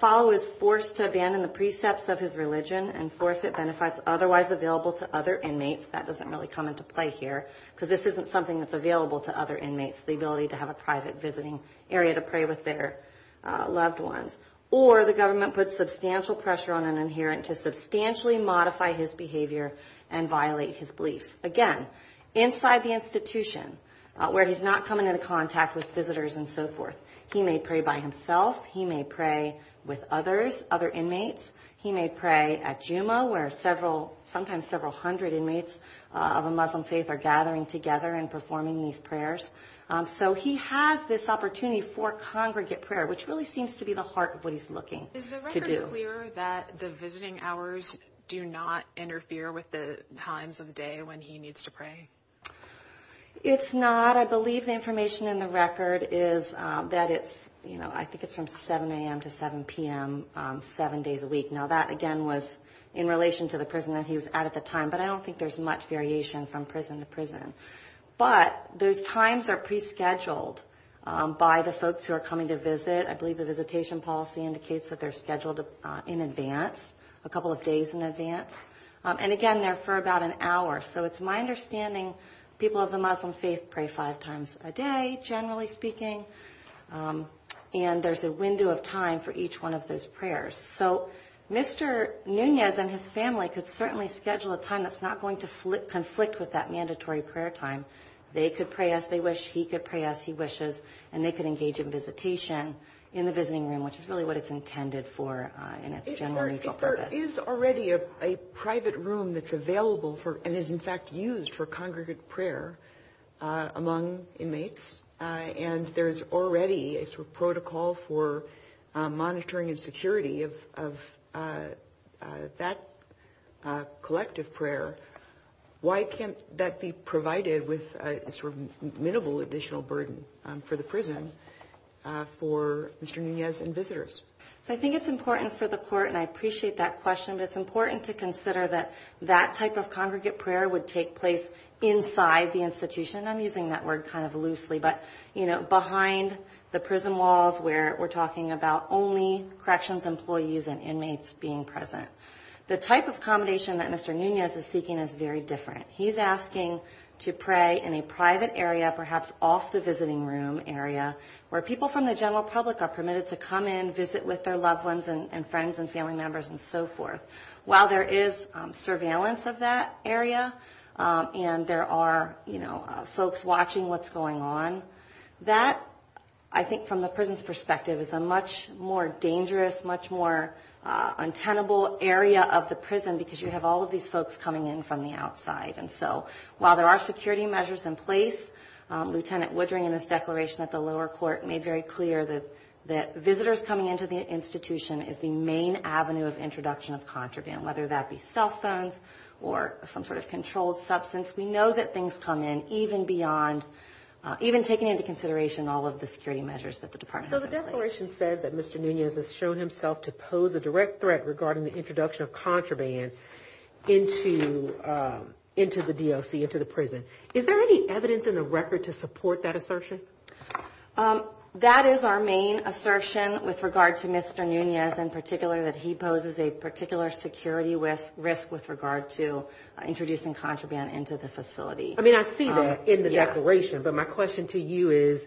follower is forced to abandon the precepts of his religion and forfeit benefits otherwise available to other inmates. That doesn't really come into play here because this isn't something that's available to other inmates, the ability to have a private visiting area to pray with their loved ones. Or the government puts substantial pressure on an inherent to substantially modify his behavior and violate his beliefs. Again, inside the institution where he's not coming into contact with visitors and so forth, he may pray by himself, he may pray with others, other inmates. He may pray at Juma where several, sometimes several hundred inmates of a Muslim faith are gathering together and performing these prayers. So he has this opportunity for congregate prayer, which really seems to be the heart of what he's looking to do. Is the record clear that the visiting hours do not interfere with the times of day when he needs to pray? It's not. What I believe the information in the record is that it's, you know, I think it's from 7 a.m. to 7 p.m. seven days a week. Now that, again, was in relation to the prison that he was at at the time, but I don't think there's much variation from prison to prison. But those times are pre-scheduled by the folks who are coming to visit. I believe the visitation policy indicates that they're scheduled in advance, a couple of days in advance. And, again, they're for about an hour. So it's my understanding people of the Muslim faith pray five times a day, generally speaking, and there's a window of time for each one of those prayers. So Mr. Nunez and his family could certainly schedule a time that's not going to conflict with that mandatory prayer time. They could pray as they wish, he could pray as he wishes, and they could engage in visitation in the visiting room, which is really what it's intended for in its general purpose. There is already a private room that's available and is, in fact, used for congregate prayer among inmates, and there's already a sort of protocol for monitoring and security of that collective prayer. Why can't that be provided with a sort of minimal additional burden for the prison for Mr. Nunez and visitors? I think it's important for the court, and I appreciate that question, but it's important to consider that that type of congregate prayer would take place inside the institution. I'm using that word kind of loosely, but, you know, behind the prison walls where we're talking about only corrections employees and inmates being present. The type of accommodation that Mr. Nunez is seeking is very different. He's asking to pray in a private area, perhaps off the visiting room area, where people from the general public are permitted to come in, visit with their loved ones and friends and family members and so forth. While there is surveillance of that area and there are, you know, folks watching what's going on, that, I think from the prison's perspective, is a much more dangerous, much more untenable area of the prison because you have all of these folks coming in from the outside. And so while there are security measures in place, Lieutenant Woodring in his declaration at the lower court made very clear that visitors coming into the institution is the main avenue of introduction of contraband, whether that be cell phones or some sort of controlled substance. We know that things come in even beyond, even taking into consideration all of the security measures that the department has in place. So the declaration says that Mr. Nunez has shown himself to pose a direct threat regarding the introduction of contraband into the DOC, into the prison. Is there any evidence in the record to support that assertion? That is our main assertion with regard to Mr. Nunez in particular, that he poses a particular security risk with regard to introducing contraband into the facility. I mean, I see that in the declaration, but my question to you is,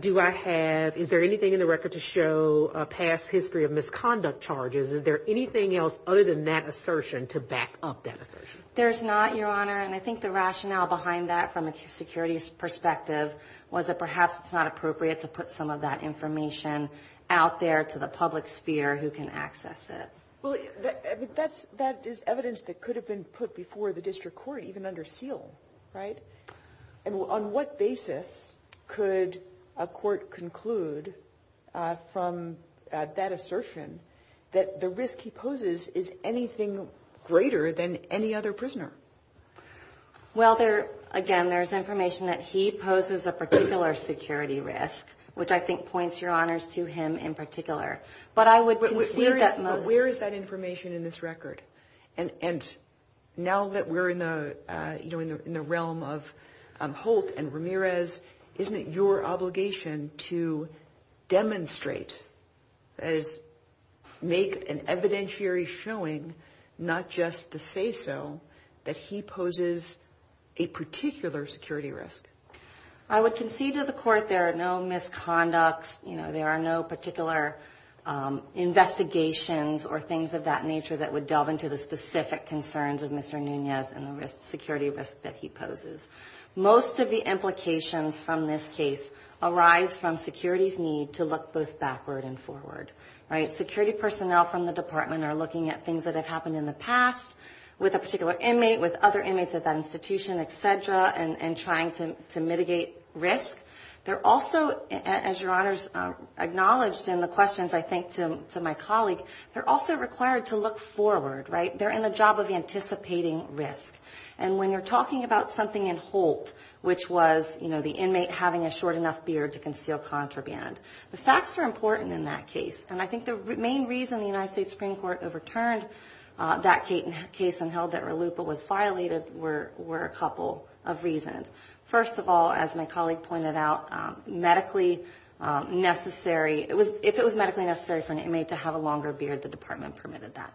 do I have, is there anything in the record to show a past history of misconduct charges? Is there anything else other than that assertion to back up that assertion? There's not, Your Honor, and I think the rationale behind that from a security perspective was that perhaps it's not appropriate to put some of that information out there to the public sphere who can access it. But that is evidence that could have been put before the district court, even under seal, right? And on what basis could a court conclude from that assertion that the risk he poses is anything greater than any other prisoner? Well, again, there's information that he poses a particular security risk, which I think points, Your Honors, to him in particular. But I would concede that most... But where is that information in this record? And now that we're in the realm of Holt and Ramirez, isn't it your obligation to demonstrate, make an evidentiary showing, not just to say so, that he poses a particular security risk? I would concede to the court there are no misconducts, there are no particular investigations or things of that nature that would delve into the specific concerns of Mr. Nunez and the security risk that he poses. Most of the implications from this case arise from security's need to look both backward and forward. Security personnel from the department are looking at things that have happened in the past with a particular inmate, with other inmates at that institution, et cetera, and trying to mitigate risk. They're also, as Your Honors acknowledged in the questions I think to my colleague, they're also required to look forward, right? They're in the job of anticipating risk. And when you're talking about something in Holt, which was the inmate having a short enough beard to conceal contraband, the facts are important in that case. And I think the main reason the United States Supreme Court overturned that case and held that Raluca was violated were a couple of reasons. First of all, as my colleague pointed out, medically necessary. If it was medically necessary for an inmate to have a longer beard, the department permitted that.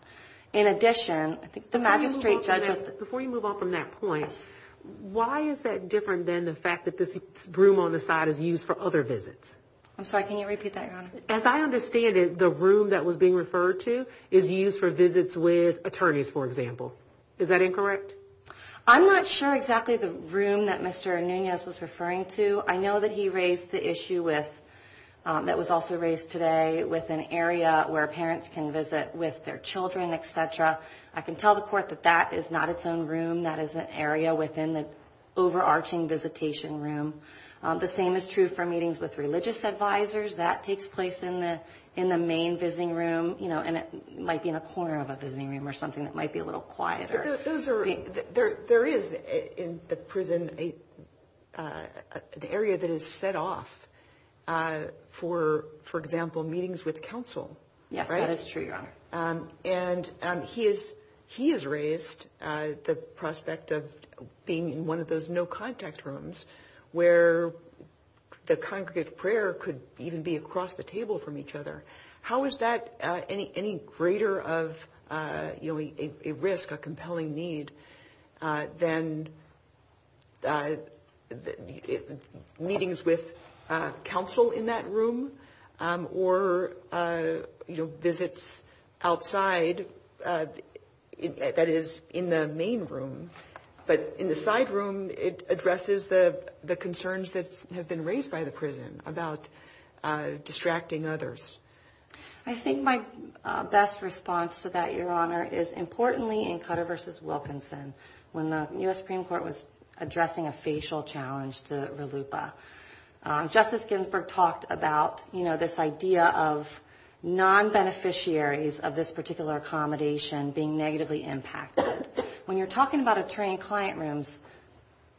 In addition, I think the Magistrate Judge... Before you move on from that point, why is that different than the fact that this room on the side is used for other visits? I'm sorry, can you repeat that, Your Honor? As I understand it, the room that was being referred to is used for visits with attorneys, for example. Is that incorrect? I'm not sure exactly the room that Mr. Anunez was referring to. I know that he raised the issue that was also raised today with an area where parents can visit with their children, et cetera. I can tell the Court that that is not its own room. That is an area within the overarching visitation room. The same is true for meetings with religious advisors. That takes place in the main visiting room, and it might be in a corner of a visiting room or something that might be a little quieter. There is, in the prison, an area that is set off for, for example, meetings with counsel. Yes, that is true, Your Honor. And he has raised the prospect of being in one of those no-contact rooms where the congregate prayer could even be across the table from each other. How is that any greater of a risk, a compelling need, than meetings with counsel in that room or visits outside, that is, in the main room? But in the side room, it addresses the concerns that have been raised by the prison about distracting others. I think my best response to that, Your Honor, is importantly in Cutter v. Wilkinson when the U.S. Supreme Court was addressing a facial challenge to RLUIPA. Justice Ginsburg talked about this idea of non-beneficiaries of this particular accommodation being negatively impacted. When you're talking about attorney and client rooms,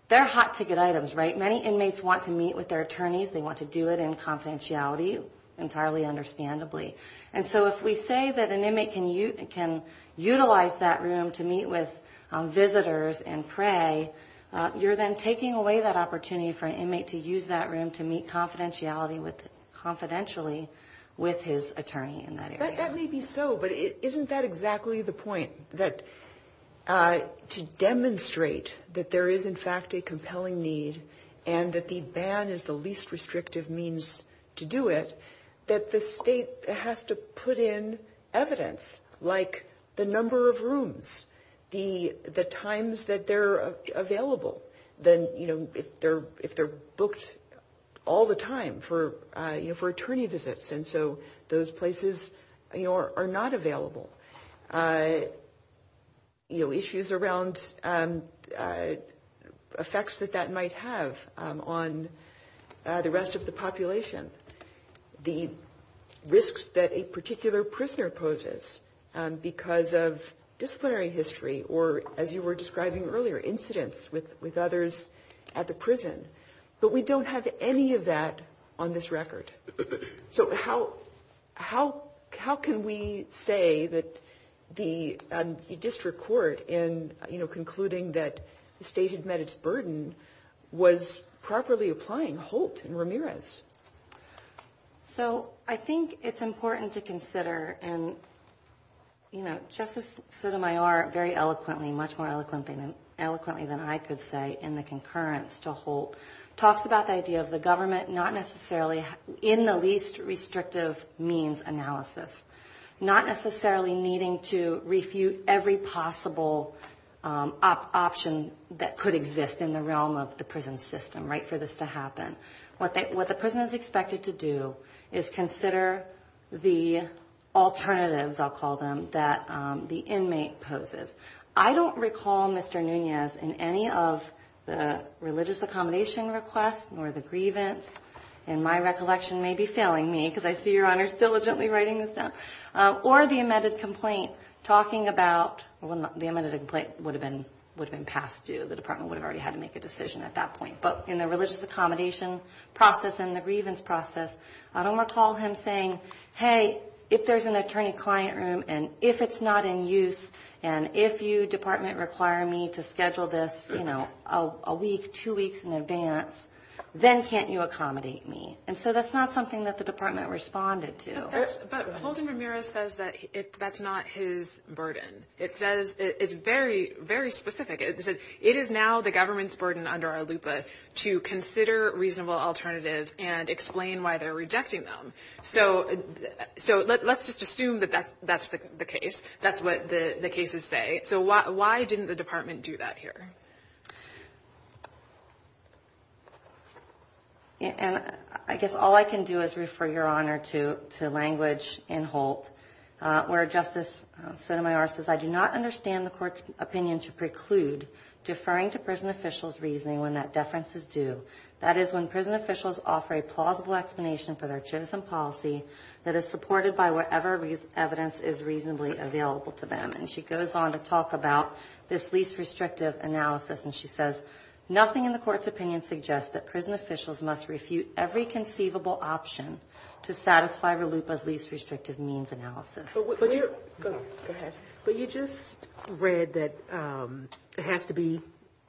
they're hot-ticket items, right? Many inmates want to meet with their attorneys. They want to do it in confidentiality, entirely understandably. And so if we say that an inmate can utilize that room to meet with visitors and pray, you're then taking away that opportunity for an inmate to use that room to meet confidentially with his attorney in that area. That may be so, but isn't that exactly the point? To demonstrate that there is, in fact, a compelling need and that the ban is the least restrictive means to do it, that the state has to put in evidence, like the number of rooms, the times that they're available, if they're booked all the time for attorney visits. And so those places are not available. Issues around effects that that might have on the rest of the population, the risks that a particular prisoner poses because of disciplinary history or, as you were describing earlier, incidents with others at the prison. But we don't have any of that on this record. So how can we say that the district court, in concluding that the state has met its burden, was properly applying Holt and Ramirez? So I think it's important to consider, and Justice Sotomayor very eloquently, much more eloquently than I could say in the concurrence to Holt, talks about the idea of the government not necessarily in the least restrictive means analysis, not necessarily needing to refute every possible option that could exist in the realm of the prison system for this to happen. What the prison is expected to do is consider the alternatives, I'll call them, that the inmate poses. I don't recall, Mr. Nunez, in any of the religious accommodation request or the grievance, and my recollection may be failing me because I see Your Honor is diligently writing this down, or the amended complaint talking about, well, the amended complaint would have been passed due. The department would have already had to make a decision at that point. But in the religious accommodation process and the grievance process, I don't recall him saying, hey, if there's an attorney-client room and if it's not in use and if you department require me to schedule this, you know, a week, two weeks in advance, then can't you accommodate me? And so that's not something that the department responded to. But Holden Ramirez says that that's not his burden. It's very, very specific. It is now the government's burden under ALUPA to consider reasonable alternatives and explain why they're rejecting them. So let's just assume that that's the case. That's what the cases say. So why didn't the department do that here? I guess all I can do is refer Your Honor to language in Holt where Justice Sotomayor says, I do not understand the court's opinion to preclude deferring to prison officials' reasoning when that deference is due. That is, when prison officials offer a plausible explanation for their chosen policy that is supported by whatever evidence is reasonably available to them. And she goes on to talk about this least restrictive analysis. And she says, nothing in the court's opinion suggests that prison officials must refute every conceivable option to satisfy RLUPA's least restrictive means analysis. Go ahead. But you just read that it has to be,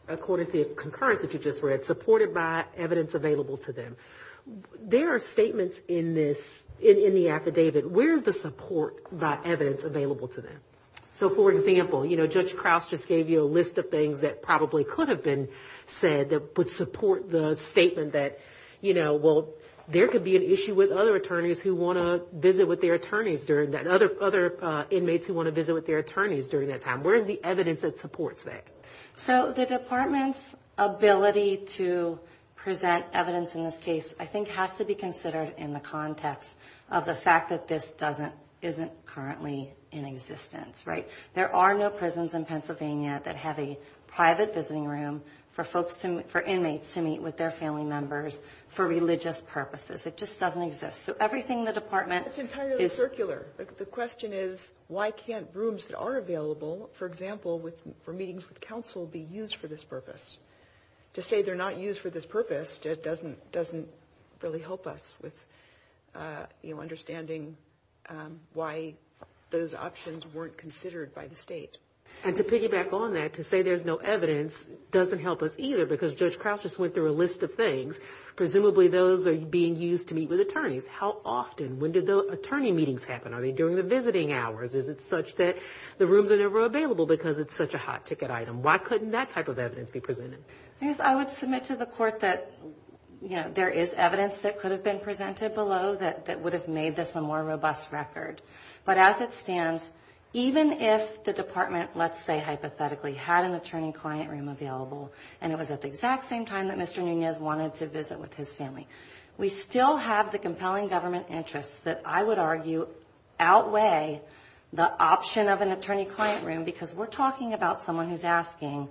according to the concurrence that you just read, supported by evidence available to them. There are statements in this, in the affidavit, where is the support by evidence available to them? So, for example, you know, Judge Crouse just gave you a list of things that probably could have been said that would support the statement that, you know, well, there could be an issue with other attorneys who want to visit with their attorneys during that, other inmates who want to visit with their attorneys during that time. Where is the evidence that supports that? So the department's ability to present evidence in this case, I think, has to be considered in the context of the fact that this doesn't, isn't currently in existence, right? There are no prisons in Pennsylvania that have a private visiting room for folks to, for inmates to meet with their family members for religious purposes. It just doesn't exist. So everything in the department is. That's entirely circular. The question is, why can't rooms that are available, for example, for meetings with counsel be used for this purpose? To say they're not used for this purpose just doesn't really help us with, you know, understanding why those options weren't considered by the state. And to piggyback on that, to say there's no evidence doesn't help us either because Judge Crouse just went through a list of things. Presumably those are being used to meet with attorneys. How often? When do the attorney meetings happen? Are they during the visiting hours? Is it such that the rooms are never available because it's such a hot ticket item? Why couldn't that type of evidence be presented? I would submit to the court that, you know, there is evidence that could have been presented below that would have made this a more robust record. But as it stands, even if the department, let's say hypothetically, had an attorney-client room available and it was at the exact same time that Mr. Nunez wanted to visit with his family, we still have the compelling government interests that I would argue outweigh the option of an attorney-client room because we're talking about someone who's asking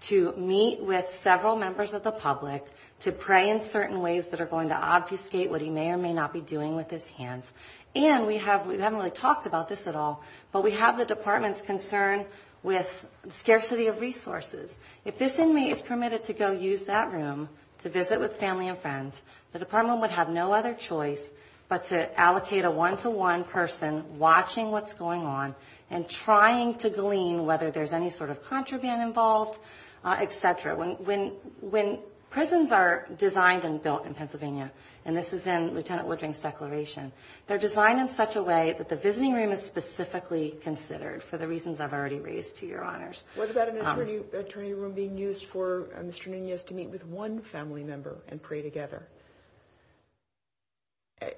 to meet with several members of the public to pray in certain ways that are going to obfuscate what he may or may not be doing with his hands. And we haven't really talked about this at all, but we have the department's concern with scarcity of resources. If this inmate is permitted to go use that room to visit with family and friends, the department would have no other choice but to allocate a one-to-one person watching what's going on and trying to glean whether there's any sort of contraband involved, et cetera. When prisons are designed and built in Pennsylvania, and this is in Lieutenant Woodring's declaration, they're designed in such a way that the visiting room is specifically considered for the reasons I've already raised to your honors. What about an attorney room being used for Mr. Nunez to meet with one family member and pray together?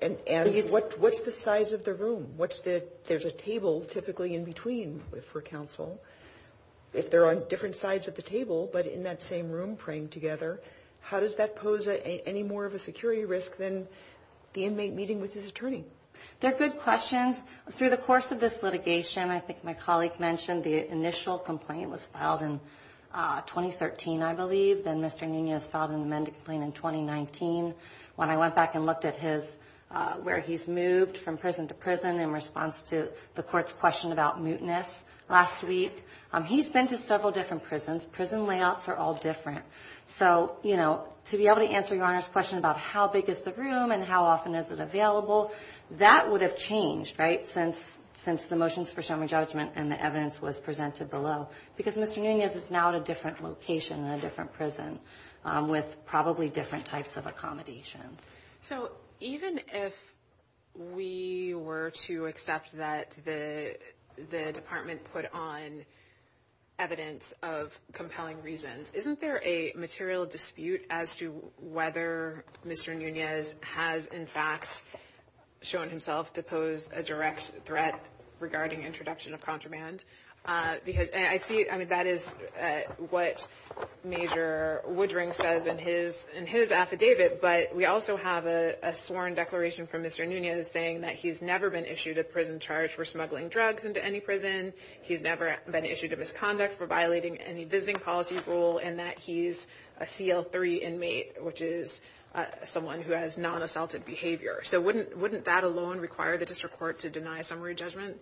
And what's the size of the room? There's a table typically in between for counsel. If they're on different sides of the table but in that same room praying together, how does that pose any more of a security risk than the inmate meeting with his attorney? They're good questions. Through the course of this litigation, I think my colleague mentioned the initial complaint was filed in 2013, I believe. Then Mr. Nunez filed an amended complaint in 2019. When I went back and looked at where he's moved from prison to prison in response to the court's question about mootness last week, he's been to several different prisons. Prison layouts are all different. So, you know, to be able to answer your honors' question about how big is the room and how often is it available, that would have changed, right, since the motions for summary judgment and the evidence was presented below. Because Mr. Nunez is now at a different location in a different prison with probably different types of accommodations. So even if we were to accept that the department put on evidence of compelling reasons, isn't there a material dispute as to whether Mr. Nunez has, in fact, shown himself to pose a direct threat regarding introduction of contraband? I mean, that is what Major Woodring says in his affidavit, but we also have a sworn declaration from Mr. Nunez saying that he's never been issued a prison charge for smuggling drugs into any prison. He's never been issued a misconduct for violating any visiting policy rule, and that he's a CL-3 inmate, which is someone who has non-assaultive behavior. So wouldn't that alone require the district court to deny summary judgment?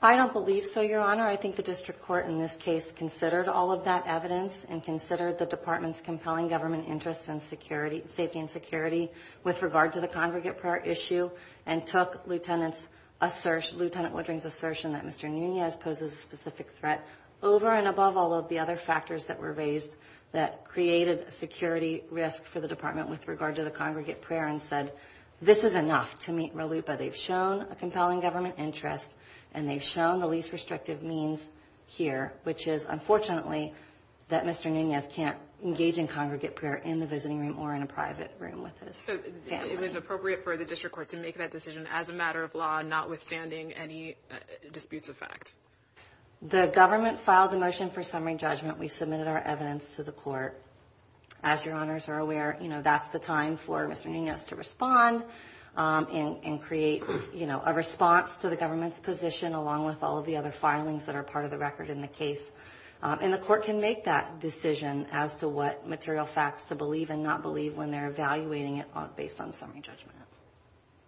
I don't believe so, your honor. I think the district court in this case considered all of that evidence and considered the department's compelling government interest in safety and security with regard to the congregate prayer issue and took Lieutenant Woodring's assertion that Mr. Nunez poses a specific threat over and above all of the other factors that were raised that created a security risk for the department with regard to the congregate prayer and said this is enough to meet RLUIPA. They've shown a compelling government interest, and they've shown the least restrictive means here, which is, unfortunately, that Mr. Nunez can't engage in congregate prayer in the visiting room or in a private room with his family. So it is appropriate for the district court to make that decision as a matter of law, notwithstanding any disputes of fact? The government filed a motion for summary judgment. We submitted our evidence to the court. As your honors are aware, that's the time for Mr. Nunez to respond and create a response to the government's position along with all of the other filings that are part of the record in the case. And the court can make that decision as to what material facts to believe and not believe when they're evaluating it based on summary judgment.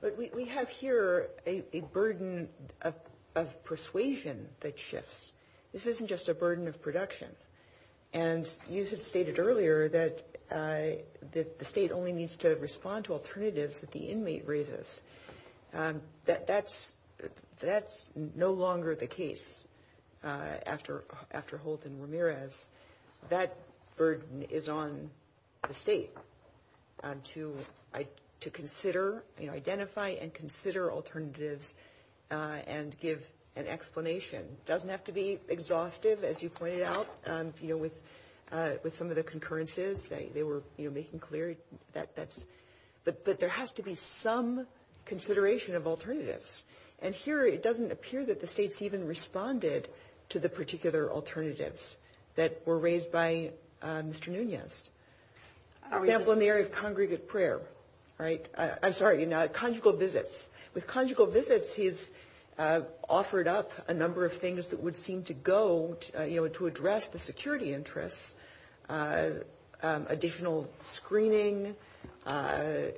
But we have here a burden of persuasion that shifts. This isn't just a burden of production. And you had stated earlier that the state only needs to respond to alternatives that the inmate raises. That's no longer the case after Holt and Ramirez. That burden is on the state to consider, identify and consider alternatives and give an explanation. It doesn't have to be exhaustive, as you pointed out, with some of the concurrences. They were making clear that there has to be some consideration of alternatives. And here it doesn't appear that the states even responded to the particular alternatives that were raised by Mr. Nunez. For example, in the area of congregate prayer, right? I'm sorry, in conjugal visits. With conjugal visits he's offered up a number of things that would seem to go to address the security interests. Additional screening, a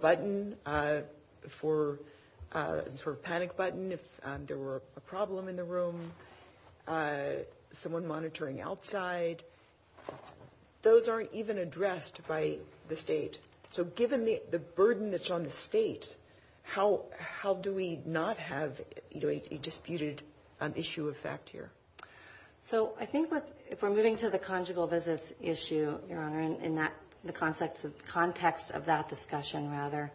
button for a panic button if there were a problem in the room, someone monitoring outside. Those aren't even addressed by the state. So given the burden that's on the state, how do we not have a disputed issue of fact here? So I think if we're moving to the conjugal visits issue, Your Honor, in the context of that discussion rather,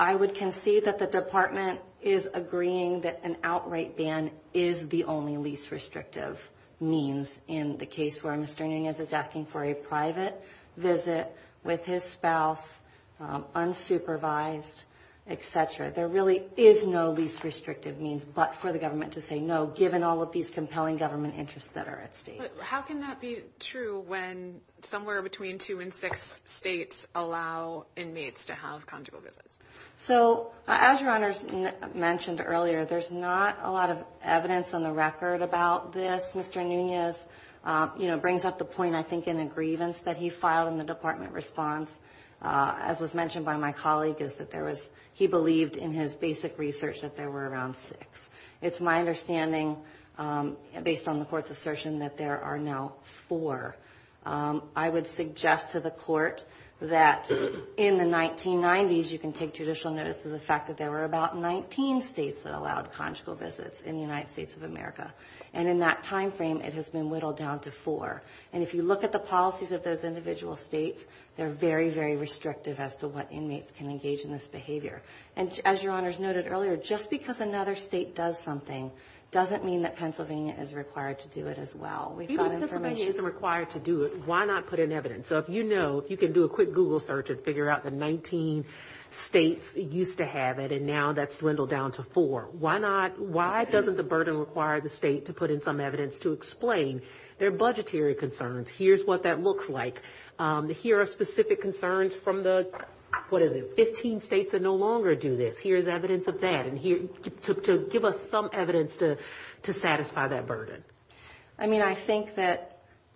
I would concede that the department is agreeing that an outright ban is the only least restrictive means in the case where Mr. Nunez is asking for a private visit with his spouse, unsupervised, et cetera. There really is no least restrictive means but for the government to say no, given all of these compelling government interests that are at stake. But how can that be true when somewhere between two and six states allow inmates to have conjugal visits? So as Your Honor mentioned earlier, there's not a lot of evidence on the record about this. Mr. Nunez brings up the point, I think, in a grievance that he filed in the department response, as was mentioned by my colleague, is that he believed in his basic research that there were around six. It's my understanding, based on the court's assertion, that there are now four. I would suggest to the court that in the 1990s you can take judicial notice of the fact that there were about 19 states that allowed conjugal visits in the United States of America. And in that timeframe, it has been whittled down to four. And if you look at the policies of those individual states, they're very, very restrictive as to what inmates can engage in this behavior. And as Your Honor's noted earlier, just because another state does something doesn't mean that Pennsylvania is required to do it as well. If Pennsylvania isn't required to do it, why not put in evidence? So if you know, you can do a quick Google search and figure out that 19 states used to have it, and now that's dwindled down to four. Why doesn't the burden require the state to put in some evidence to explain their budgetary concerns? Here's what that looks like. Here are specific concerns from the 15 states that no longer do this. Here's evidence of that to give us some evidence to satisfy that burden. I mean, I think that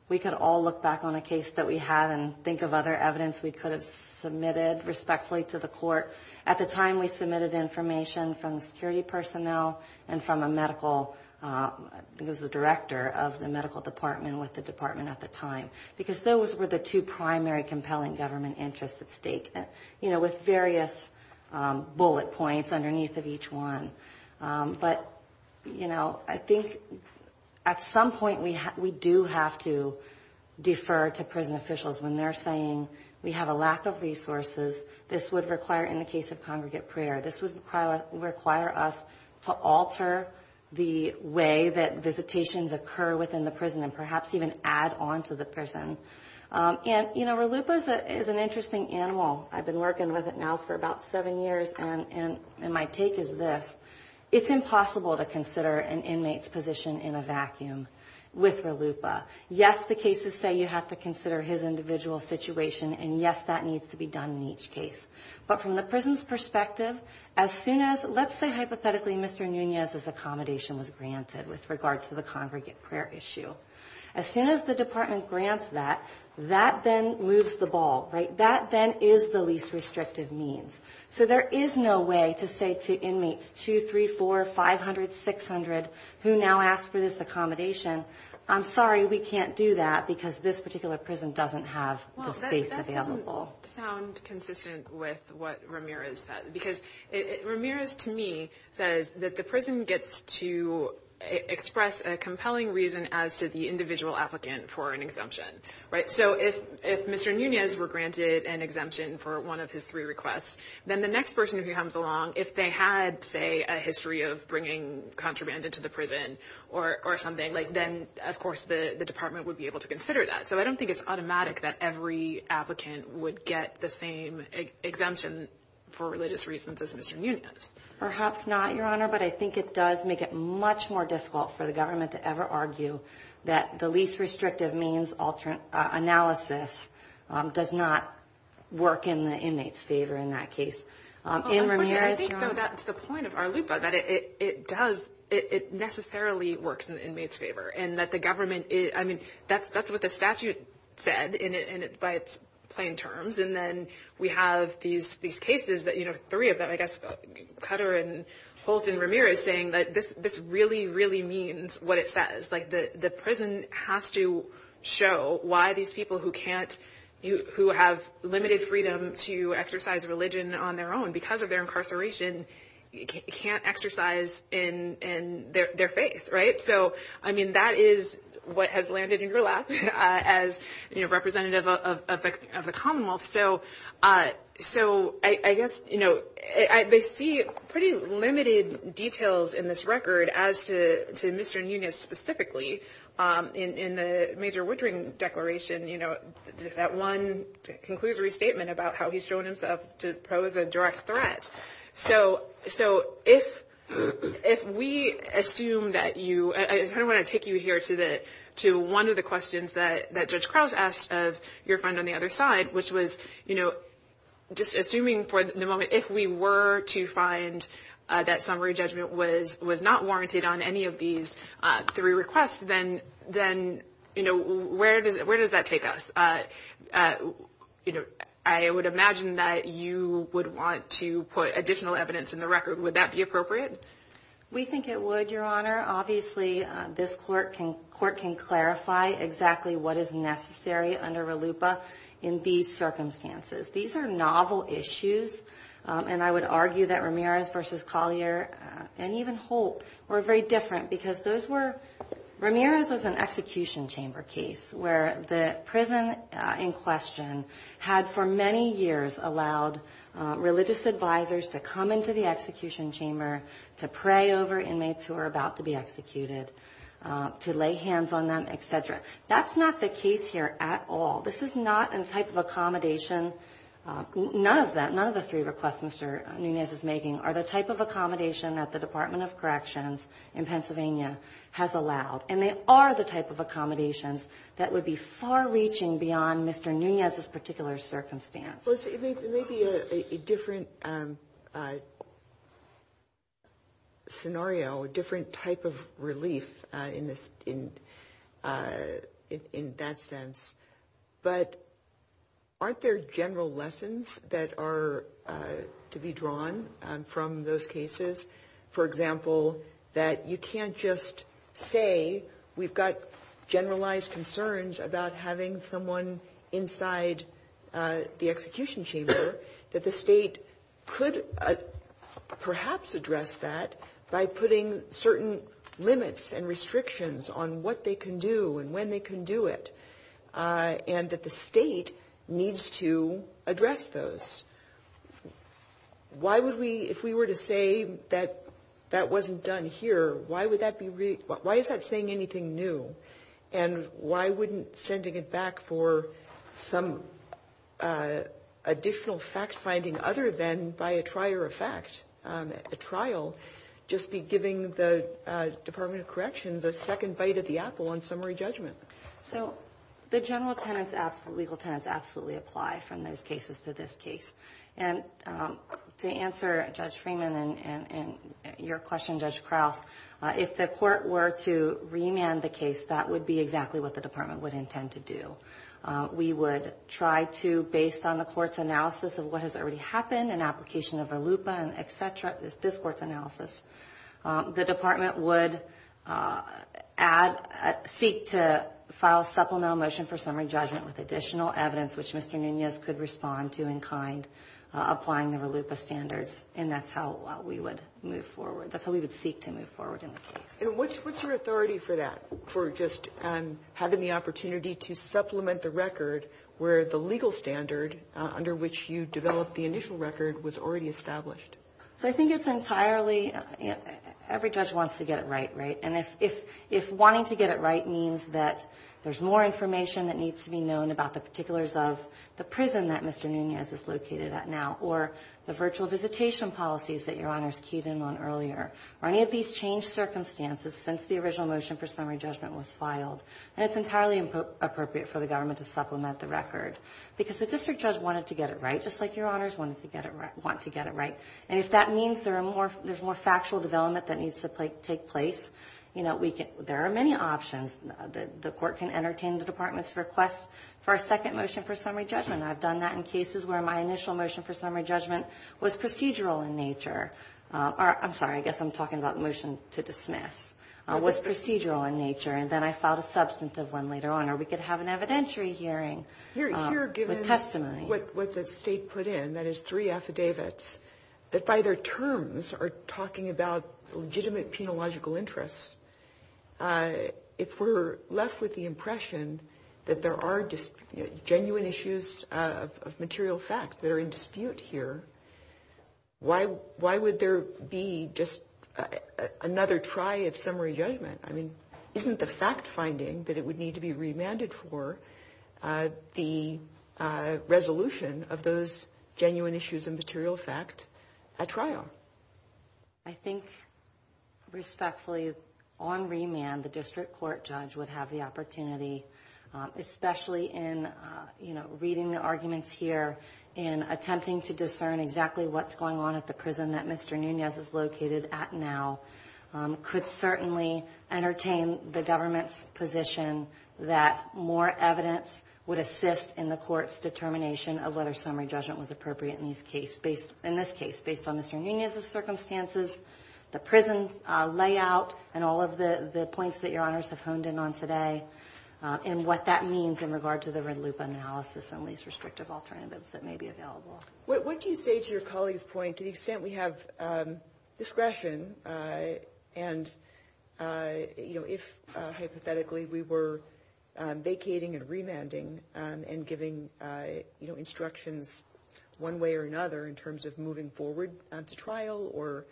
we could all look back on a case that we had and think of other evidence we could have submitted respectfully to the court. At the time we submitted information from security personnel and from a medical, it was the director of the medical department with the department at the time, because those were the two primary compelling government interests at stake, you know, with various bullet points underneath of each one. But, you know, I think at some point we do have to defer to prison officials when they're saying we have a lack of resources. This would require, in the case of congregate prayer, this would require us to alter the way that visitations occur within the prison and perhaps even add on to the prison. And, you know, Ralupa is an interesting animal. I've been working with it now for about seven years, and my take is this. It's impossible to consider an inmate's position in a vacuum with Ralupa. Yes, the cases say you have to consider his individual situation, and yes, that needs to be done in each case. But from the prison's perspective, as soon as, let's say hypothetically, Mr. Nunez's accommodation was granted with regard to the congregate prayer issue. As soon as the department grants that, that then moves the ball, right? That then is the least restrictive means. So there is no way to say to inmates 2, 3, 4, 500, 600, who now ask for this accommodation, I'm sorry, we can't do that because this particular prison doesn't have the space available. Well, that doesn't sound consistent with what Ramirez said, because Ramirez, to me, says that the prison gets to express a compelling reason as to the individual applicant for an exemption, right? So if Mr. Nunez were granted an exemption for one of his three requests, then the next person who comes along, if they had, say, a history of bringing contraband into the prison or something, then, of course, the department would be able to consider that. So I don't think it's automatic that every applicant would get the same exemption for religious reasons as Mr. Nunez. Perhaps not, Your Honor, but I think it does make it much more difficult for the government to ever argue that the least restrictive means analysis does not work in the inmates' favor in that case. I think that's the point of Arlupa, that it does, it necessarily works in the inmates' favor, and that the government is, I mean, that's what the statute said by its plain terms, and then we have these cases that, you know, three of them, I guess, Cutter and Holtz and Ramirez saying that this really, really means what it says. Like the prison has to show why these people who can't, who have limited freedom to exercise religion on their own because of their incarceration, can't exercise in their faith, right? So, I mean, that is what has landed in your lap as representative of the Commonwealth. So I guess, you know, they see pretty limited details in this record as to Mr. Nunez specifically. In the Major Woodring Declaration, you know, that one conclusory statement about how he's shown himself to pose a direct threat. So if we assume that you, I kind of want to take you here to one of the questions that Judge Cross asked of your friend on the other side, which was, you know, just assuming for the moment, if we were to find that summary judgment was not warranted on any of these three requests, then, you know, where does that take us? You know, I would imagine that you would want to put additional evidence in the record. Would that be appropriate? We think it would, Your Honor. Obviously, this court can clarify exactly what is necessary under RLUIPA in these circumstances. These are novel issues, and I would argue that Ramirez versus Collier and even Holt were very different because those were, Ramirez was an execution chamber case where the prison in question had for many years allowed religious advisors to come into the execution chamber to pray over inmates who were about to be executed, to lay hands on them, et cetera. That's not the case here at all. This is not a type of accommodation. None of that, none of the three requests Mr. Nunez is making are the type of accommodation that the Department of Corrections in Pennsylvania has allowed, and they are the type of accommodations that would be far reaching beyond Mr. Nunez's particular circumstance. Well, it's maybe a different scenario, a different type of relief in that sense. But aren't there general lessons that are to be drawn from those cases? For example, that you can't just say we've got generalized concerns about having someone inside the execution chamber, that the state could perhaps address that by putting certain limits and restrictions on what they can do and when they can do it, and that the state needs to address those. If we were to say that that wasn't done here, why is that saying anything new? And why wouldn't sending it back for some additional fact-finding other than by a trier of facts at the trial just be giving the Department of Corrections a second bite of the apple on summary judgment? So the general legal tenets absolutely apply from those cases to this case. And to answer Judge Freeman and your question, Judge Krause, if the court were to re-mand the case, that would be exactly what the Department would intend to do. We would try to, based on the court's analysis of what has already happened and application of a LUPA and et cetera, this court's analysis, the Department would seek to file supplemental motion for summary judgment with additional evidence which Mr. Nunez could respond to in kind, applying their LUPA standards. And that's how we would move forward. That's how we would seek to move forward in this case. And what's your authority for that, for just having the opportunity to supplement the record where the legal standard under which you developed the initial record was already established? So I think it's entirely, every judge wants to get it right, right? And if wanting to get it right means that there's more information that needs to be known about the particulars of the prison that Mr. Nunez is located at now or the virtual visitation policies that Your Honors keyed in on earlier, are any of these changed circumstances since the original motion for summary judgment was filed? And it's entirely appropriate for the government to supplement the record. Because the district judge wanted to get it right, just like Your Honors wanted to get it right. And if that means there's more factual development that needs to take place, you know, there are many options. The court can entertain the Department's request for a second motion for summary judgment. I've done that in cases where my initial motion for summary judgment was procedural in nature. I'm sorry, I guess I'm talking about the motion to dismiss, was procedural in nature. And then I filed a substantive one later on or we could have an evidentiary hearing. Here, given what the state put in, that is three affidavits, that by their terms are talking about legitimate penological interests, if we're left with the impression that there are genuine issues of material facts that are in dispute here, why would there be just another try at summary judgment? I mean, isn't the fact finding that it would need to be remanded for the resolution of those genuine issues of material fact a trial? I think respectfully, on remand, the district court judge would have the opportunity, especially in reading the arguments here and attempting to discern exactly what's going on at the prison that Mr. Nunez is located at now, could certainly entertain the government's position that more evidence would assist in the court's determination of whether summary judgment was appropriate in this case, based on Mr. Nunez's circumstances, the prison layout, and all of the points that your honors have honed in on today, and what that means in regard to the red loop analysis and these restrictive alternatives that may be available. What do you say to your colleague's point to the extent we have discretion, and if hypothetically we were vacating and remanding and giving instructions one way or another in terms of moving forward on the trial or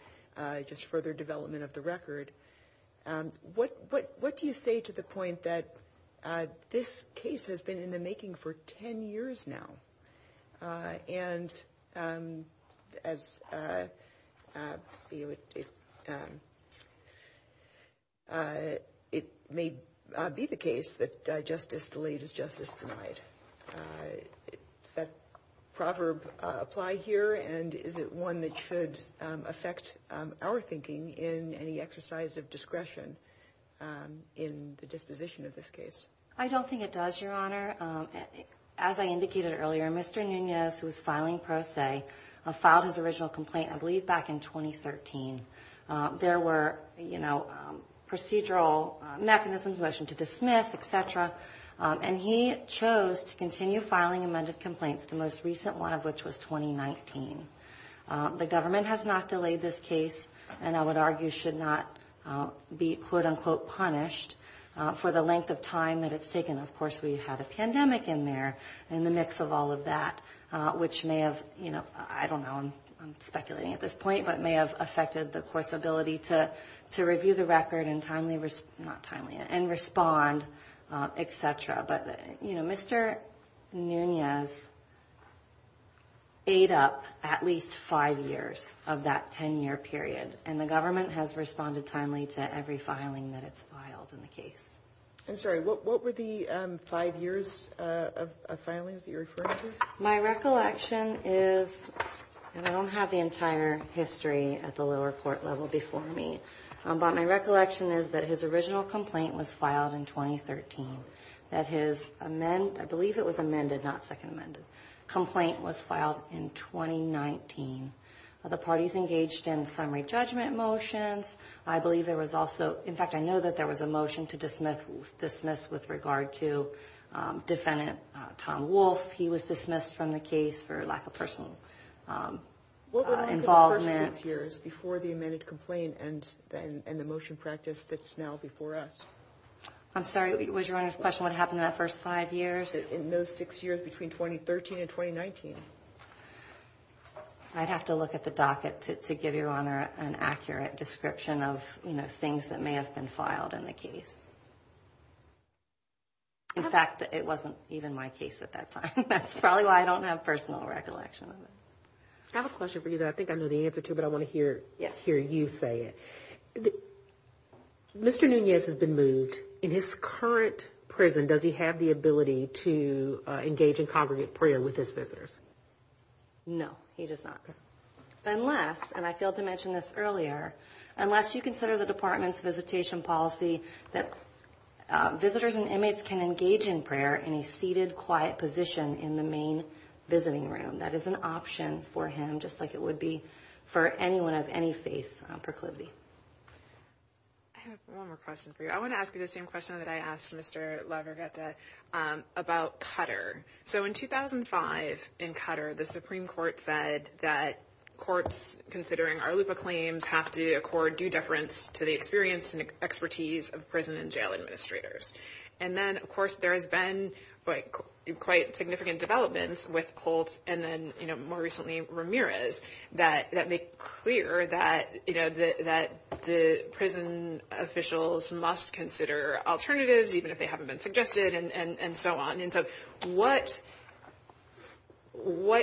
just further development of the record, what do you say to the point that this case has been in the making for 10 years now, and it may be the case that justice delayed is justice denied. Does that proverb apply here, and is it one that should affect our thinking in any exercise of discretion in the disposition of this case? I don't think it does, your honor. As I indicated earlier, Mr. Nunez, who is filing per se, filed his original complaint, I believe, back in 2013. There were procedural mechanisms, motion to dismiss, et cetera, and he chose to continue filing amended complaints, the most recent one of which was 2019. The government has not delayed this case and I would argue should not be, quote-unquote, punished for the length of time that it's taken. Of course, we've had a pandemic in there in the mix of all of that, which may have, you know, I don't know, I'm speculating at this point, but may have affected the court's ability to review the record and timely, not timely, and respond, et cetera. But, you know, Mr. Nunez ate up at least five years of that 10-year period, and the government has responded timely to every filing that it's filed in the case. I'm sorry, what were the five years of filing that you're referring to? My recollection is, and I don't have the entire history at the lower court level before me, but my recollection is that his original complaint was filed in 2013. That his, I believe it was amended, not second amended, complaint was filed in 2019. The parties engaged in summary judgment motions. I believe there was also, in fact, I know that there was a motion to dismiss with regard to defendant Tom Wolfe. He was dismissed from the case for lack of personal involvement. It was the first six years before the amended complaint, and the motion practice fits now before us. I'm sorry, was your Honor's question what happened in that first five years? In those six years between 2013 and 2019. I'd have to look at the docket to give your Honor an accurate description of, you know, things that may have been filed in the case. In fact, it wasn't even my case at that time. That's probably why I don't have personal recollection of it. I have a question for you that I think I know the answer to, but I want to hear you say it. Mr. Nunez has been moved. In his current prison, does he have the ability to engage in congregate prayer with his visitors? No, he does not, unless, and I failed to mention this earlier, unless you consider the department's visitation policy that visitors and inmates can engage in prayer in a seated, quiet position in the main visiting room. That is an option for him, just like it would be for anyone of any faith proclivity. I have one more question for you. I want to ask you the same question that I asked Mr. LaGarreta about Qatar. So in 2005, in Qatar, the Supreme Court said that courts, considering our loop of claims, have to accord due deference to the experience and expertise of prison and jail administrators. And then, of course, there has been quite significant developments with Colts and then, you know, more recently Ramirez that make clear that, you know, that the prison officials must consider alternatives, even if they haven't been suggested and so on. And so what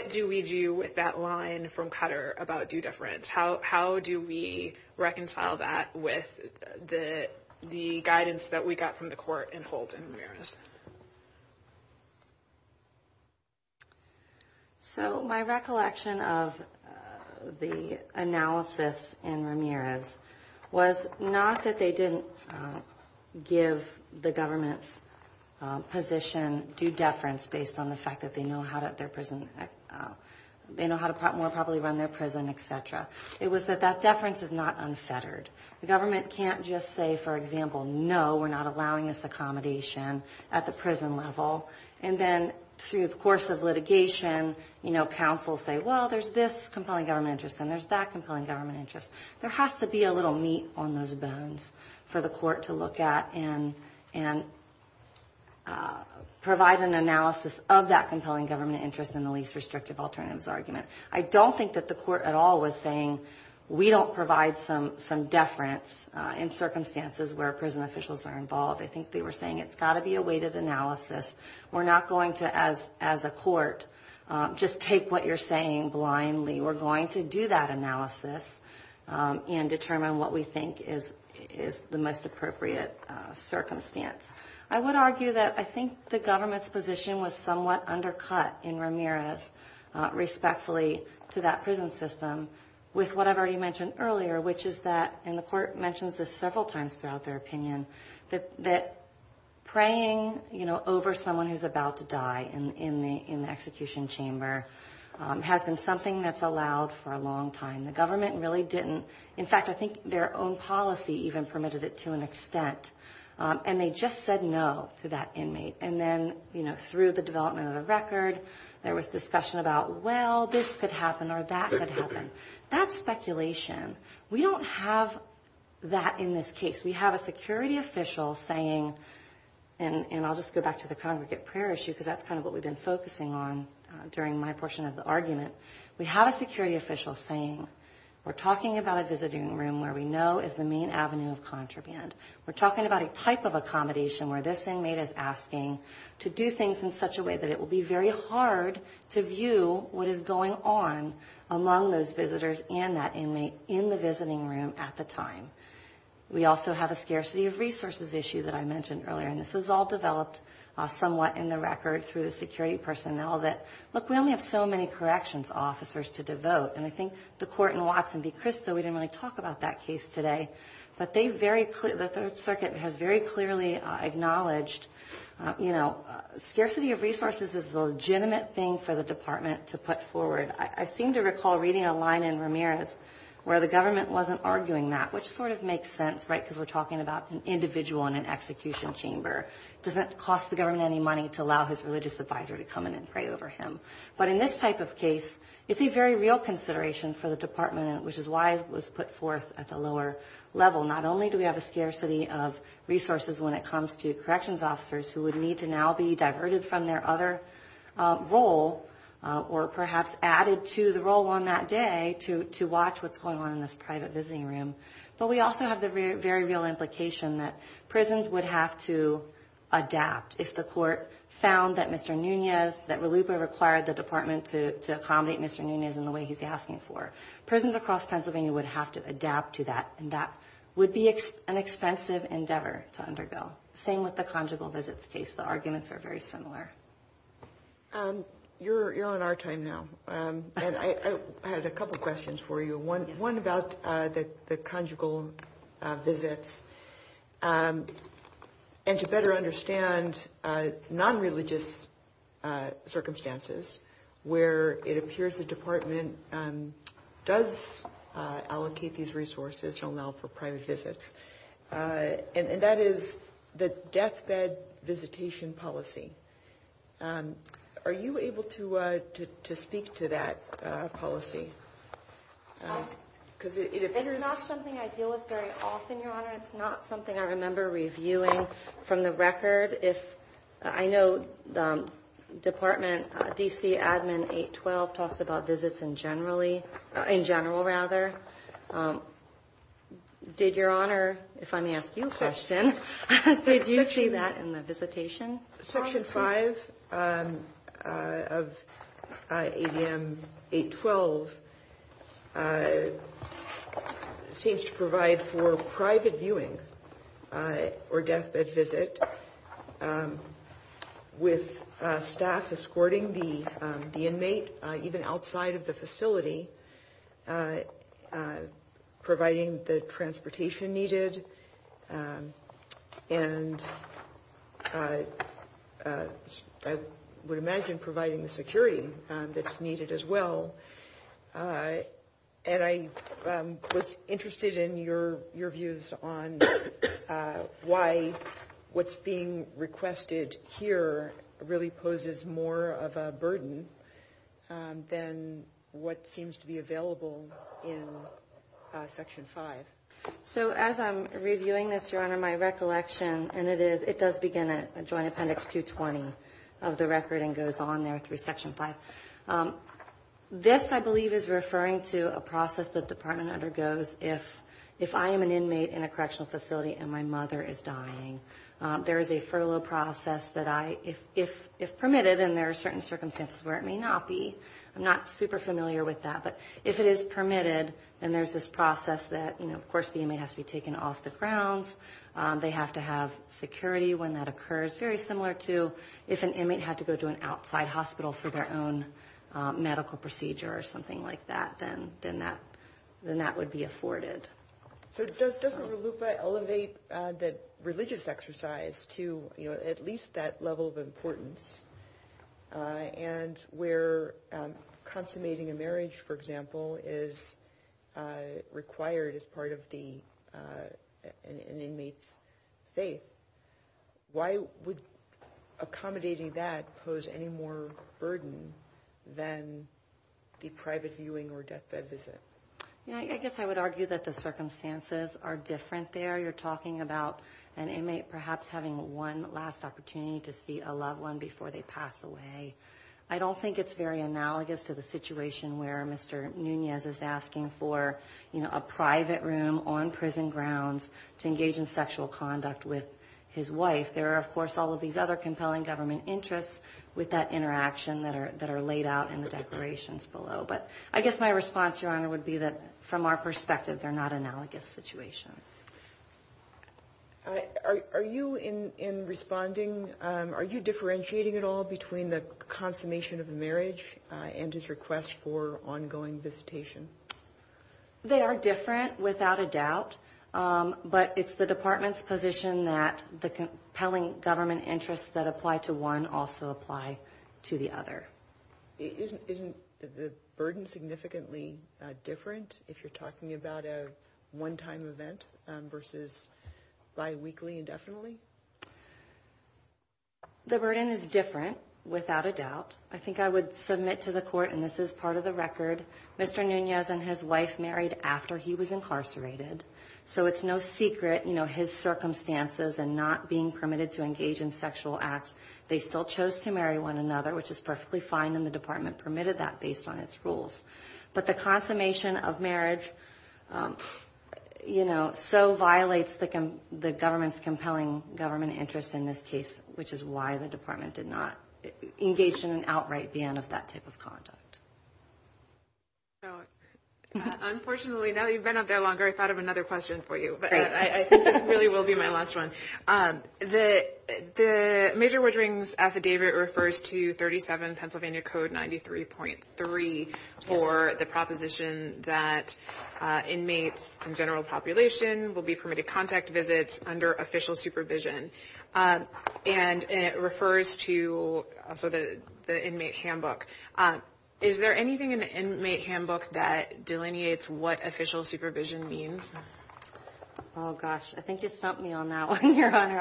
do we do with that line from Qatar about due deference? How do we reconcile that with the guidance that we got from the court in Colts and Ramirez? So my recollection of the analysis in Ramirez was not that they didn't give the government's position due deference based on the fact that they know how to more properly run their prison, et cetera. It was that that deference is not unfettered. The government can't just say, for example, no, we're not allowing this accommodation at the prison level. And then through the course of litigation, you know, counsel say, well, there's this compelling government interest and there's that compelling government interest. There has to be a little meat on those bones for the court to look at and provide an analysis of that compelling government interest in the least restrictive alternatives argument. I don't think that the court at all was saying we don't provide some deference in circumstances where prison officials are involved. I think they were saying it's got to be a weighted analysis. We're not going to, as a court, just take what you're saying blindly. We're going to do that analysis and determine what we think is the most appropriate circumstance. I would argue that I think the government's position was somewhat undercut in Ramirez, respectfully to that prison system, with what I've already mentioned earlier, which is that, and the court mentioned this several times throughout their opinion, that preying, you know, over someone who's about to die in the execution chamber has been something that's allowed for a long time. The government really didn't. In fact, I think their own policy even permitted it to an extent. And they just said no to that inmate. And then, you know, through the development of the record, there was discussion about, well, this could happen or that could happen. That's speculation. We don't have that in this case. We have a security official saying, and I'll just go back to the congregate prayer issue because that's kind of what we've been focusing on during my portion of the argument. We have a security official saying we're talking about a visiting room where we know is the main avenue of contraband. We're talking about a type of accommodation where this inmate is asking to do things in such a way that it will be very hard to view what is going on among those visitors and that inmate in the visiting room at the time. We also have a scarcity of resources issue that I mentioned earlier, and this was all developed somewhat in the record through the security personnel that, look, we only have so many corrections officers to devote. And I think the court in Watson v. Cristo, we didn't really talk about that case today, but the Third Circuit has very clearly acknowledged, you know, scarcity of resources is a legitimate thing for the department to put forward. I seem to recall reading a line in Ramirez where the government wasn't arguing that, which sort of makes sense, right, because we're talking about an individual in an execution chamber. It doesn't cost the government any money to allow his religious advisor to come in and pray over him. But in this type of case, it's a very real consideration for the department, which is why it was put forth at the lower level. Not only do we have a scarcity of resources when it comes to corrections officers who would need to now be diverted from their other role or perhaps added to the role on that day to watch what's going on in this private visiting room, but we also have the very real implication that prisons would have to adapt. If the court found that Mr. Nunez, that Raluca required the department to accommodate Mr. Nunez in the way he's asking for, prisons across Pennsylvania would have to adapt to that, and that would be an expensive endeavor to undergo. Same with the conjugal visits case. The arguments are very similar. You're on our time now, and I have a couple questions for you. One about the conjugal visits. And to better understand nonreligious circumstances where it appears the department does allocate these resources, which are now for private visits, and that is the deathbed visitation policy. Are you able to speak to that policy? It is not something I deal with very often, Your Honor. It's not something I remember reviewing from the record. I know the department, DC Admin 812, talks about visits in general, rather. Did Your Honor, if I may ask you a question, did you see that in the visitation? Section 5 of ADM 812 seems to provide for private viewing or deathbed visit with staff escorting the inmate, even outside of the facility, providing the transportation needed, and I would imagine providing the security that's needed as well. And I was interested in your views on why what's being requested here really poses more of a burden than what seems to be available in Section 5. So as I'm reviewing this, Your Honor, my recollection, and it does begin at Joint Appendix 220 of the record and goes on there through Section 5. This, I believe, is referring to a process that the department undergoes if I am an inmate in a correctional facility and my mother is dying. There is a furlough process that I, if permitted, and there are certain circumstances where it may not be. I'm not super familiar with that, but if it is permitted, then there's this process that, you know, of course the inmate has to be taken off the grounds. They have to have security when that occurs, very similar to if an inmate had to go to an outside hospital for their own medical procedure or something like that, then that would be afforded. So doesn't RLUIPA elevate the religious exercise to, you know, at least that level of importance? And where consummating a marriage, for example, is required as part of an inmate's faith. Why would accommodating that pose any more burden than the private viewing or deathbed visit? You know, I guess I would argue that the circumstances are different there. You're talking about an inmate perhaps having one last opportunity to see a loved one before they pass away. I don't think it's very analogous to the situation where Mr. Nunez is asking for, you know, a private room on prison grounds to engage in sexual conduct with his wife. There are, of course, all of these other compelling government interests with that interaction that are laid out in the declarations below. But I guess my response, Your Honor, would be that from our perspective, they're not analogous situations. Are you, in responding, are you differentiating at all between the consummation of marriage and his request for ongoing visitation? They are different, without a doubt. But it's the Department's position that the compelling government interests that apply to one also apply to the other. Isn't the burden significantly different if you're talking about a one-time event versus biweekly indefinitely? The burden is different, without a doubt. I think I would submit to the Court, and this is part of the record, Mr. Nunez and his wife married after he was incarcerated. So it's no secret, you know, his circumstances and not being permitted to engage in sexual acts, they still chose to marry one another, which is perfectly fine, and the Department permitted that based on its rules. But the consummation of marriage, you know, so violates the government's compelling government interests in this case, which is why the Department did not engage in an outright ban of that type of conduct. Unfortunately, now that you've been out there longer, I thought of another question for you. I think this really will be my last one. The Major Woodring's affidavit refers to 37 Pennsylvania Code 93.3 for the proposition that inmates in general population will be permitted contact visits under official supervision. And it refers to the inmate handbook. Is there anything in the inmate handbook that delineates what official supervision means? Oh, gosh, I think you stumped me on that one, Your Honor.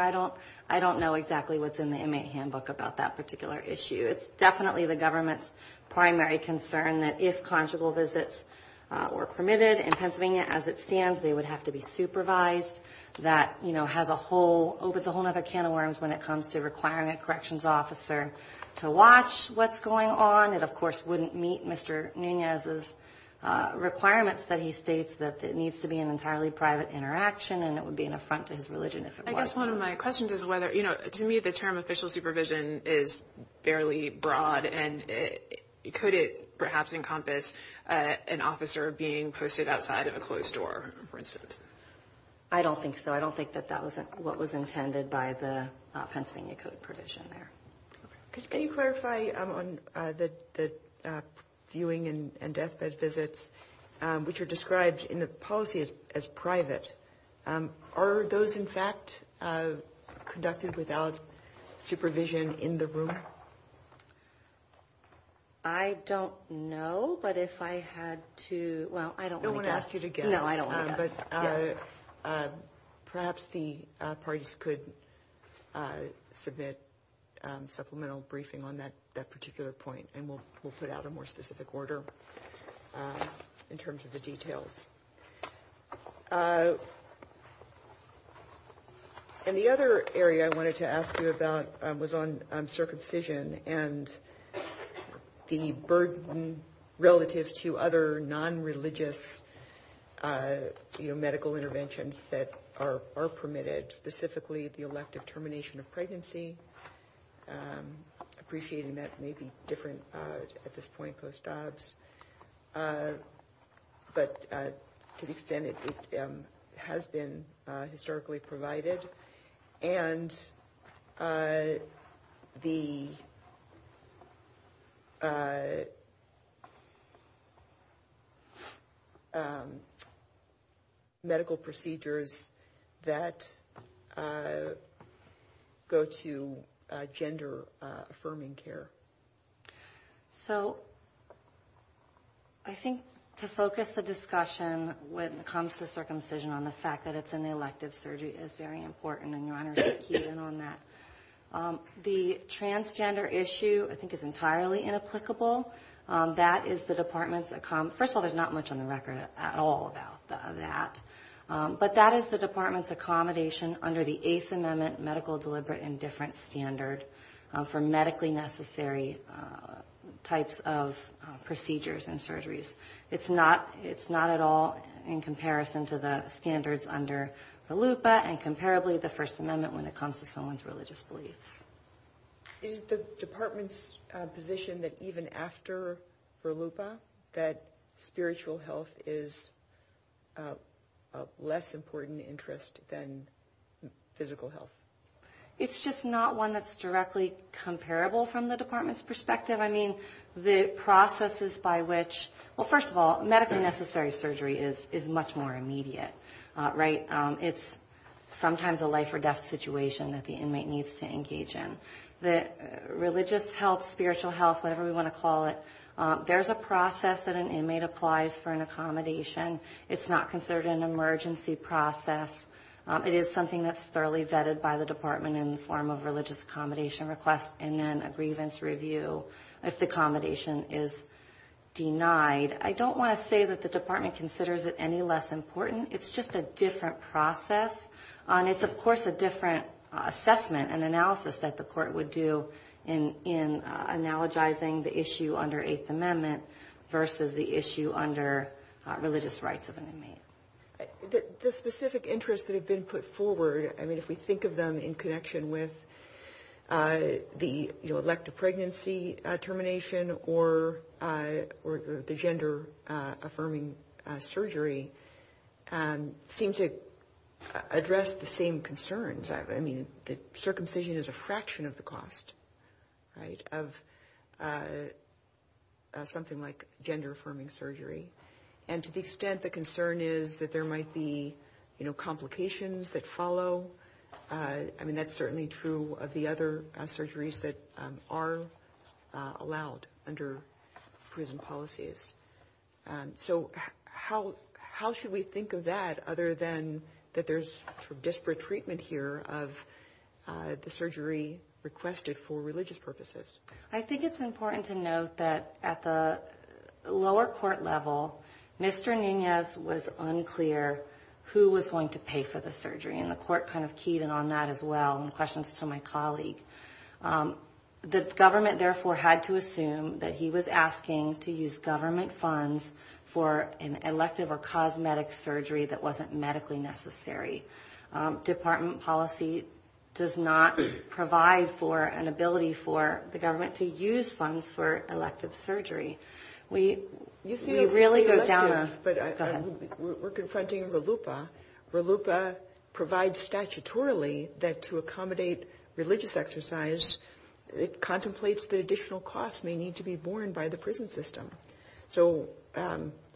I don't know exactly what's in the inmate handbook about that particular issue. It's definitely the government's primary concern that if conjugal visits were permitted in Pennsylvania as it stands, they would have to be supervised. That, you know, has a whole other can of worms when it comes to requiring a corrections officer to watch what's going on. And it, of course, wouldn't meet Mr. Nunez's requirements that he states that it needs to be an entirely private interaction and it would be an affront to his religion if it was. I guess one of my questions is whether, you know, to me the term official supervision is fairly broad and could it perhaps encompass an officer being posted outside of a closed door, for instance? I don't think so. I don't think that that was what was intended by the Pennsylvania Code provision there. Can you clarify on the viewing and deathbed visits, which are described in the policy as private, are those, in fact, conducted without supervision in the room? I don't know, but if I had to, well, I don't want to guess. No, I don't either. But perhaps the parties could submit supplemental briefing on that particular point and we'll put out a more specific order in terms of the details. And the other area I wanted to ask you about was on circumcision and the burden relative to other non-religious medical interventions that are permitted, specifically the elective termination of pregnancy. Appreciating that may be different at this point, Gustavs. But to the extent it has been historically provided and the medical procedures that go to gender-affirming care. So I think to focus the discussion when it comes to circumcision on the fact that it's in the elective surgery is very important, and your Honor should key in on that. The transgender issue I think is entirely inapplicable. That is the Department's, first of all, there's not much on the record at all about that, but that is the Department's accommodation under the Eighth Amendment medical deliberate and different standard for medically necessary types of procedures and surgeries. It's not at all in comparison to the standards under RLUIPA and comparably the First Amendment when it comes to someone's religious beliefs. Is the Department's position that even after RLUIPA that spiritual health is of less important interest than physical health? It's just not one that's directly comparable from the Department's perspective. I mean, the processes by which, well, first of all, medically necessary surgery is much more immediate, right? It's sometimes a life-or-death situation that the inmate needs to engage in. The religious health, spiritual health, whatever we want to call it, there's a process that an inmate applies for an accommodation. It's not considered an emergency process. It is something that's thoroughly vetted by the Department in the form of religious accommodation request and then a grievance review if the accommodation is denied. I don't want to say that the Department considers it any less important. It's just a different process. It's, of course, a different assessment and analysis that the court would do in analogizing the issue under Eighth Amendment versus the issue under religious rights of an inmate. The specific interests that have been put forward, I mean, if we think of them in connection with the elective pregnancy termination or the gender-affirming surgery seems to address the same concerns. I mean, circumcision is a fraction of the cost of something like gender-affirming surgery. And to the extent the concern is that there might be complications that follow, I mean, that's certainly true of the other surgeries that are allowed under prison policies. So how should we think of that other than that there's disparate treatment here of the surgery requested for religious purposes? I think it's important to note that at the lower court level, Mr. Nunez was unclear who was going to pay for the surgery, and the court kind of keyed in on that as well in questions to my colleague. The government, therefore, had to assume that he was asking to use government funds for an elective or cosmetic surgery that wasn't medically necessary. Department policy does not provide for an ability for the government to use funds for elective surgery. We're confronting RLUIPA. RLUIPA provides statutorily that to accommodate religious exercise, it contemplates that additional costs may need to be borne by the prison system. So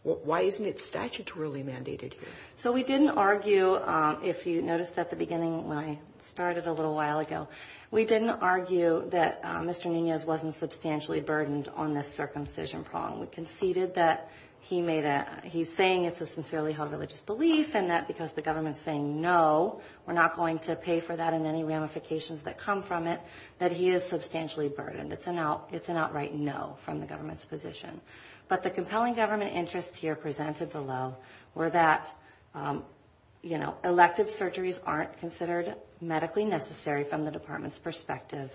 why isn't it statutorily mandated here? So we didn't argue, if you noticed at the beginning when I started a little while ago, we didn't argue that Mr. Nunez wasn't substantially burdened on this circumcision problem. We conceded that he's saying it's a sincerely held religious belief, and that because the government's saying no, we're not going to pay for that and any ramifications that come from it, that he is substantially burdened. It's an outright no from the government's position. But the compelling government interest here presented below were that, you know, elective surgeries aren't considered medically necessary from the department's perspective,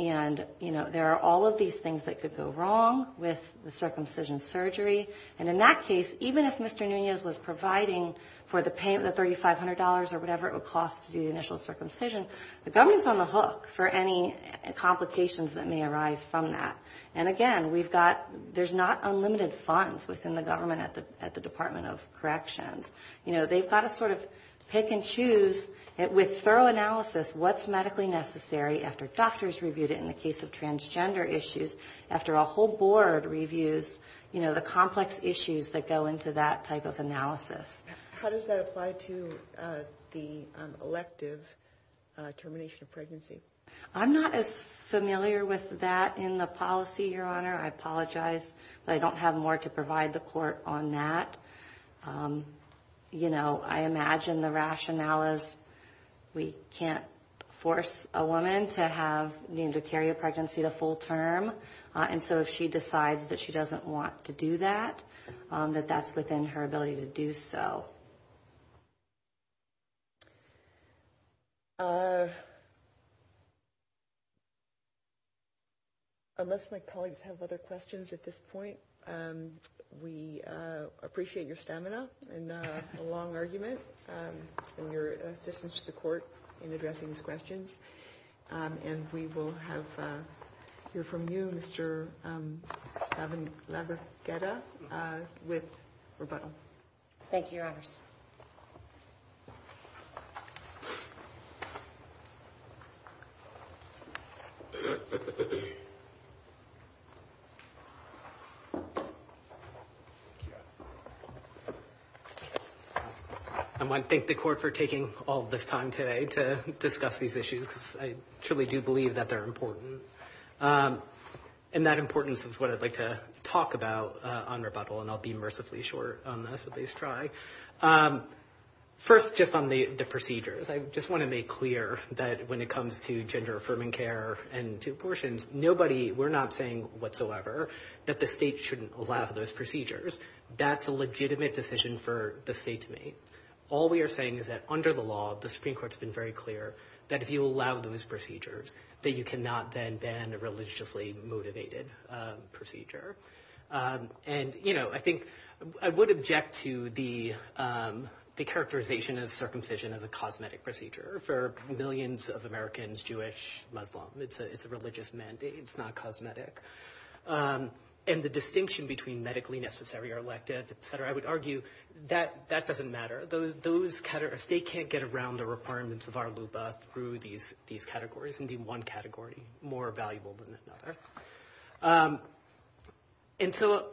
and, you know, there are all of these things that could go wrong with the circumcision surgery. And in that case, even if Mr. Nunez was providing for the $3,500 or whatever it would cost to do the initial circumcision, the government's on the hook for any complications that may arise from that. And again, we've got – there's not unlimited funds within the government at the Department of Corrections. You know, they've got to sort of pick and choose with thorough analysis what's medically necessary after doctors reviewed it in the case of transgender issues, after a whole board reviews, you know, the complex issues that go into that type of analysis. How does that apply to the elective termination of pregnancy? I'm not as familiar with that in the policy, Your Honor. I apologize, but I don't have more to provide the court on that. You know, I imagine the rationale is we can't force a woman to have – you know, to carry a pregnancy to full term. And so if she decides that she doesn't want to do that, that that's within her ability to do so. Unless my colleagues have other questions at this point, we appreciate your stamina and a long argument and your assistance to the court in addressing these questions. And we will have – hear from you, Mr. Laverghetta, with rebuttal. Thank you, Your Honor. Thank you. I want to thank the court for taking all this time today to discuss these issues. I truly do believe that they're important. And that importance is what I'd like to talk about on rebuttal, and I'll be mercifully short on this at least try. First, just on the procedures. I just want to make clear that when it comes to gender-affirming care and to abortions, nobody – we're not saying whatsoever that the state shouldn't allow those procedures. That's a legitimate decision for the state to make. All we are saying is that under the law, the Supreme Court's been very clear that if you allow those procedures, that you cannot then ban a religiously motivated procedure. And I think – I would object to the characterization of circumcision as a cosmetic procedure for millions of Americans, Jewish, Muslim. It's a religious mandate. It's not cosmetic. And the distinction between medically necessary or elective, et cetera, I would argue that doesn't matter. Those – if they can't get around the requirements of our LUPA through these categories, and do one category more valuable than another. And so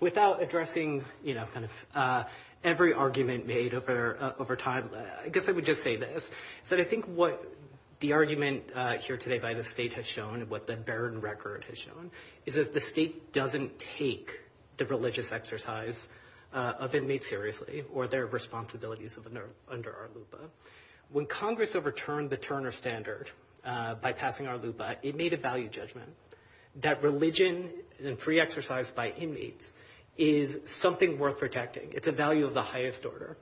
without addressing, you know, kind of every argument made over time, I guess I would just say this, that I think what the argument here today by the state has shown and what the barren record has shown is that the state doesn't take the religious exercise of inmates seriously or their responsibilities under our LUPA. When Congress overturned the Turner Standard by passing our LUPA, it made a value judgment that religion and free exercise by inmates is something worth protecting. It's a value of the highest order.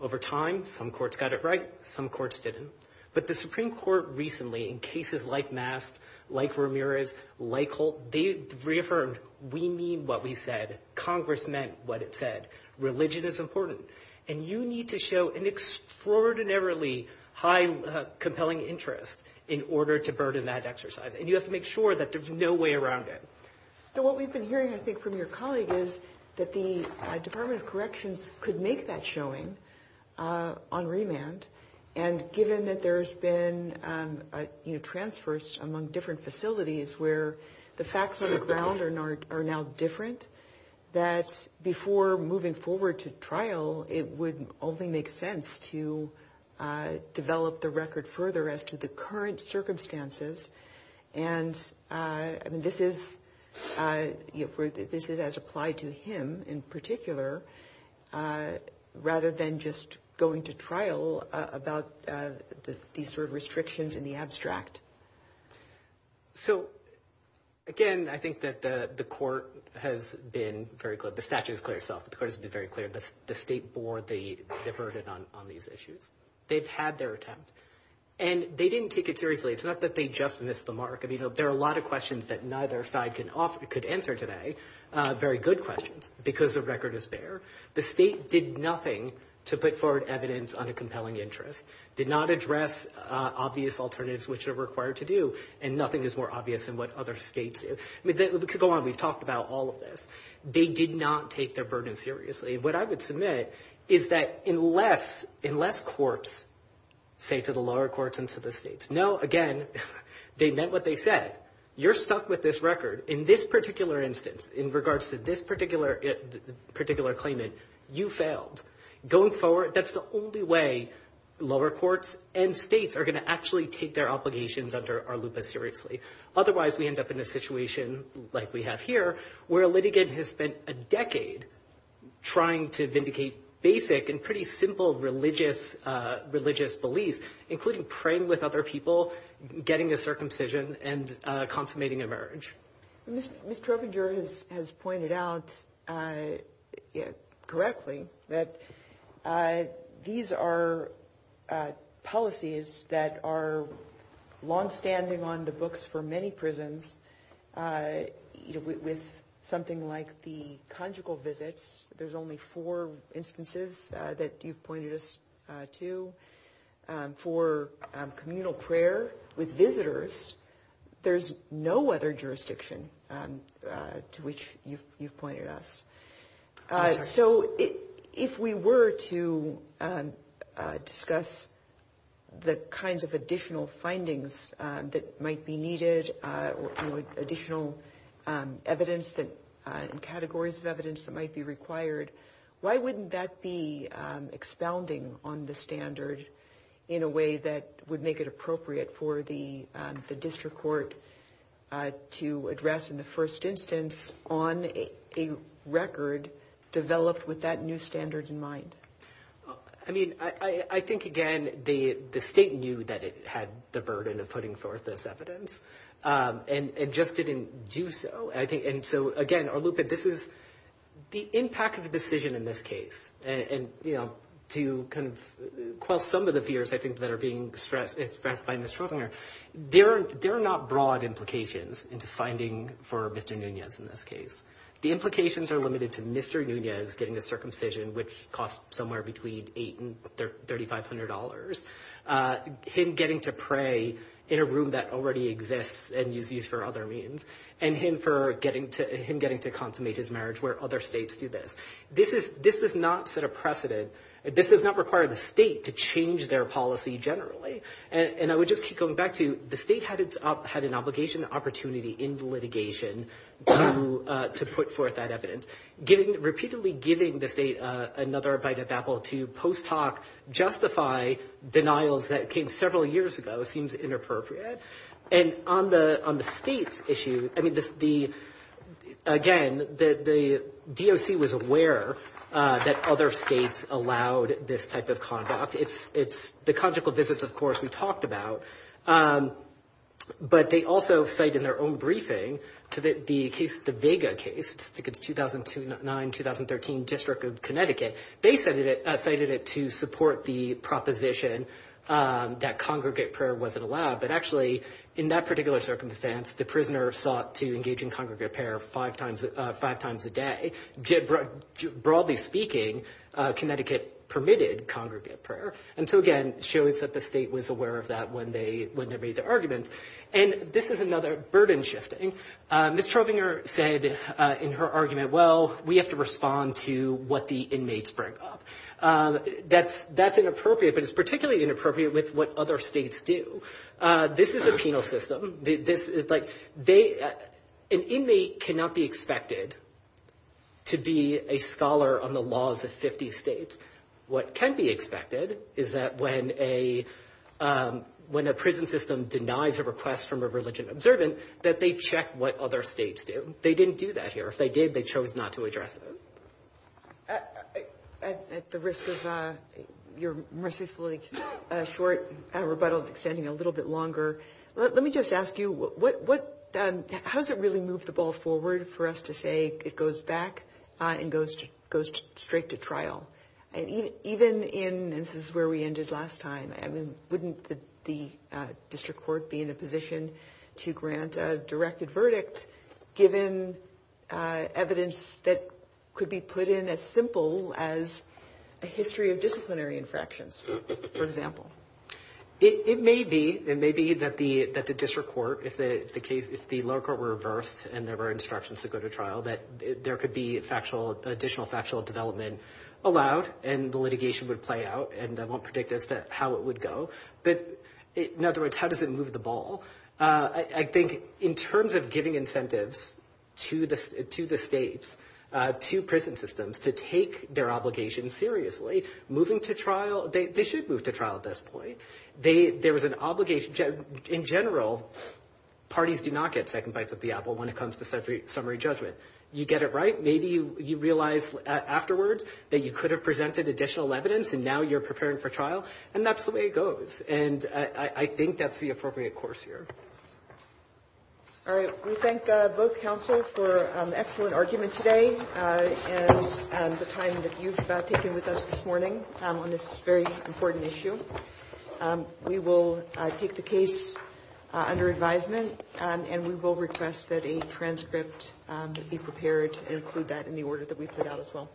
Over time, some courts got it right. Some courts didn't. But the Supreme Court recently, in cases like Mass, like Ramirez, like Holt, they reaffirmed, we mean what we said. Congress meant what it said. Religion is important. And you need to show an extraordinarily high compelling interest in order to burden that exercise. And you have to make sure that there's no way around it. So what we've been hearing, I think, from your colleague is that the Department of Corrections could make that showing on remand. And given that there's been transfers among different facilities where the facts on the ground are now different, that before moving forward to trial, it would only make sense to develop the record further as to the current circumstances. And this is as applied to him in particular, rather than just going to trial about these sort of restrictions in the abstract. So, again, I think that the court has been very clear. The statute is clear itself. The court has been very clear. But the state board, they diverted on these issues. They've had their attempt. And they didn't take it seriously. It's not that they just missed the mark. I mean, there are a lot of questions that neither side could answer today, very good questions, because the record is there. The state did nothing to put forward evidence on a compelling interest, did not address obvious alternatives which are required to do, and nothing is more obvious than what other states did. We could go on. We've talked about all of this. They did not take their burden seriously. What I would submit is that unless courts say to the lower courts and to the states, no, again, they meant what they said, you're stuck with this record. In this particular instance, in regards to this particular claimant, you failed. Going forward, that's the only way lower courts and states are going to actually take their obligations under ARLUPA seriously. Otherwise, we end up in a situation like we have here where a litigant has spent a decade trying to vindicate basic and pretty simple religious beliefs, including praying with other people, getting a circumcision, and consummating a marriage. Ms. Trevenger has pointed out correctly that these are policies that are longstanding on the books for many prisons. With something like the conjugal visits, there's only four instances that you've pointed this to. For communal prayer with visitors, there's no other jurisdiction to which you've pointed us. So if we were to discuss the kinds of additional findings that might be needed, additional evidence and categories of evidence that might be required, why wouldn't that be expounding on the standard in a way that would make it appropriate for the district court to address in the first instance on a record developed with that new standard in mind? I think, again, the state knew that it had the burden of putting forth this evidence and just didn't do so. Again, the impact of the decision in this case, and to quell some of the fears that are being expressed by Ms. Trevenger, there are not broad implications into finding for Mr. Nunez in this case. The implications are limited to Mr. Nunez getting a circumcision, which costs somewhere between $8,000 and $3,500, him getting to pray in a room that already exists and used for other means, and him getting to consummate his marriage where other states do this. This does not set a precedent. This does not require the state to change their policy generally. And I would just keep going back to the state had an obligation and opportunity in litigation to put forth that evidence. Repeatedly giving the state another bite of apple to post hoc justify denials that came several years ago seems inappropriate. And on the state issue, again, the DOC was aware that other states allowed this type of conduct. The conjugal visits, of course, we talked about. But they also cite in their own briefing the Vega case, the 2009-2013 District of Connecticut. They cited it to support the proposition that congregate prayer wasn't allowed, but actually in that particular circumstance the prisoner sought to engage in congregate prayer five times a day. Broadly speaking, Connecticut permitted congregate prayer. And so, again, it shows that the state was aware of that when they made the argument. And this is another burden shifting. Ms. Schrodinger said in her argument, well, we have to respond to what the inmates bring up. That's inappropriate, but it's particularly inappropriate with what other states do. This is a penal system. This is like an inmate cannot be expected to be a scholar on the laws of 50 states. What can be expected is that when a prison system denies a request from a religion observant, that they check what other states do. They didn't do that here. If they did, they chose not to address it. At the risk of your mercifully short rebuttal extending a little bit longer, let me just ask you, how does it really move the ball forward for us to say it goes back and goes straight to trial? Even in, and this is where we ended last time, wouldn't the district court be in a position to grant a directed verdict given evidence that could be put in as simple as a history of disciplinary infractions, for example? It may be. It may be that the district court, if the local reversed and there were instructions to go to trial, that there could be additional factual development allowed, and the litigation would play out, and I won't predict how it would go. But in other words, how does it move the ball? I think in terms of giving incentives to the states, to prison systems, to take their obligations seriously, moving to trial, they should move to trial at this point. There was an obligation. In general, parties do not get second bites of the apple when it comes to summary judgment. You get it right. Maybe you realize afterwards that you could have presented additional evidence, and now you're preparing for trial, and that's the way it goes. And I think that's the appropriate course here. All right. We thank both counsel for an excellent argument today and the time that you've taken with us this morning on this very important issue. We will take the case under advisement, and we will request that a transcript be prepared and include that in the order that we put out as well.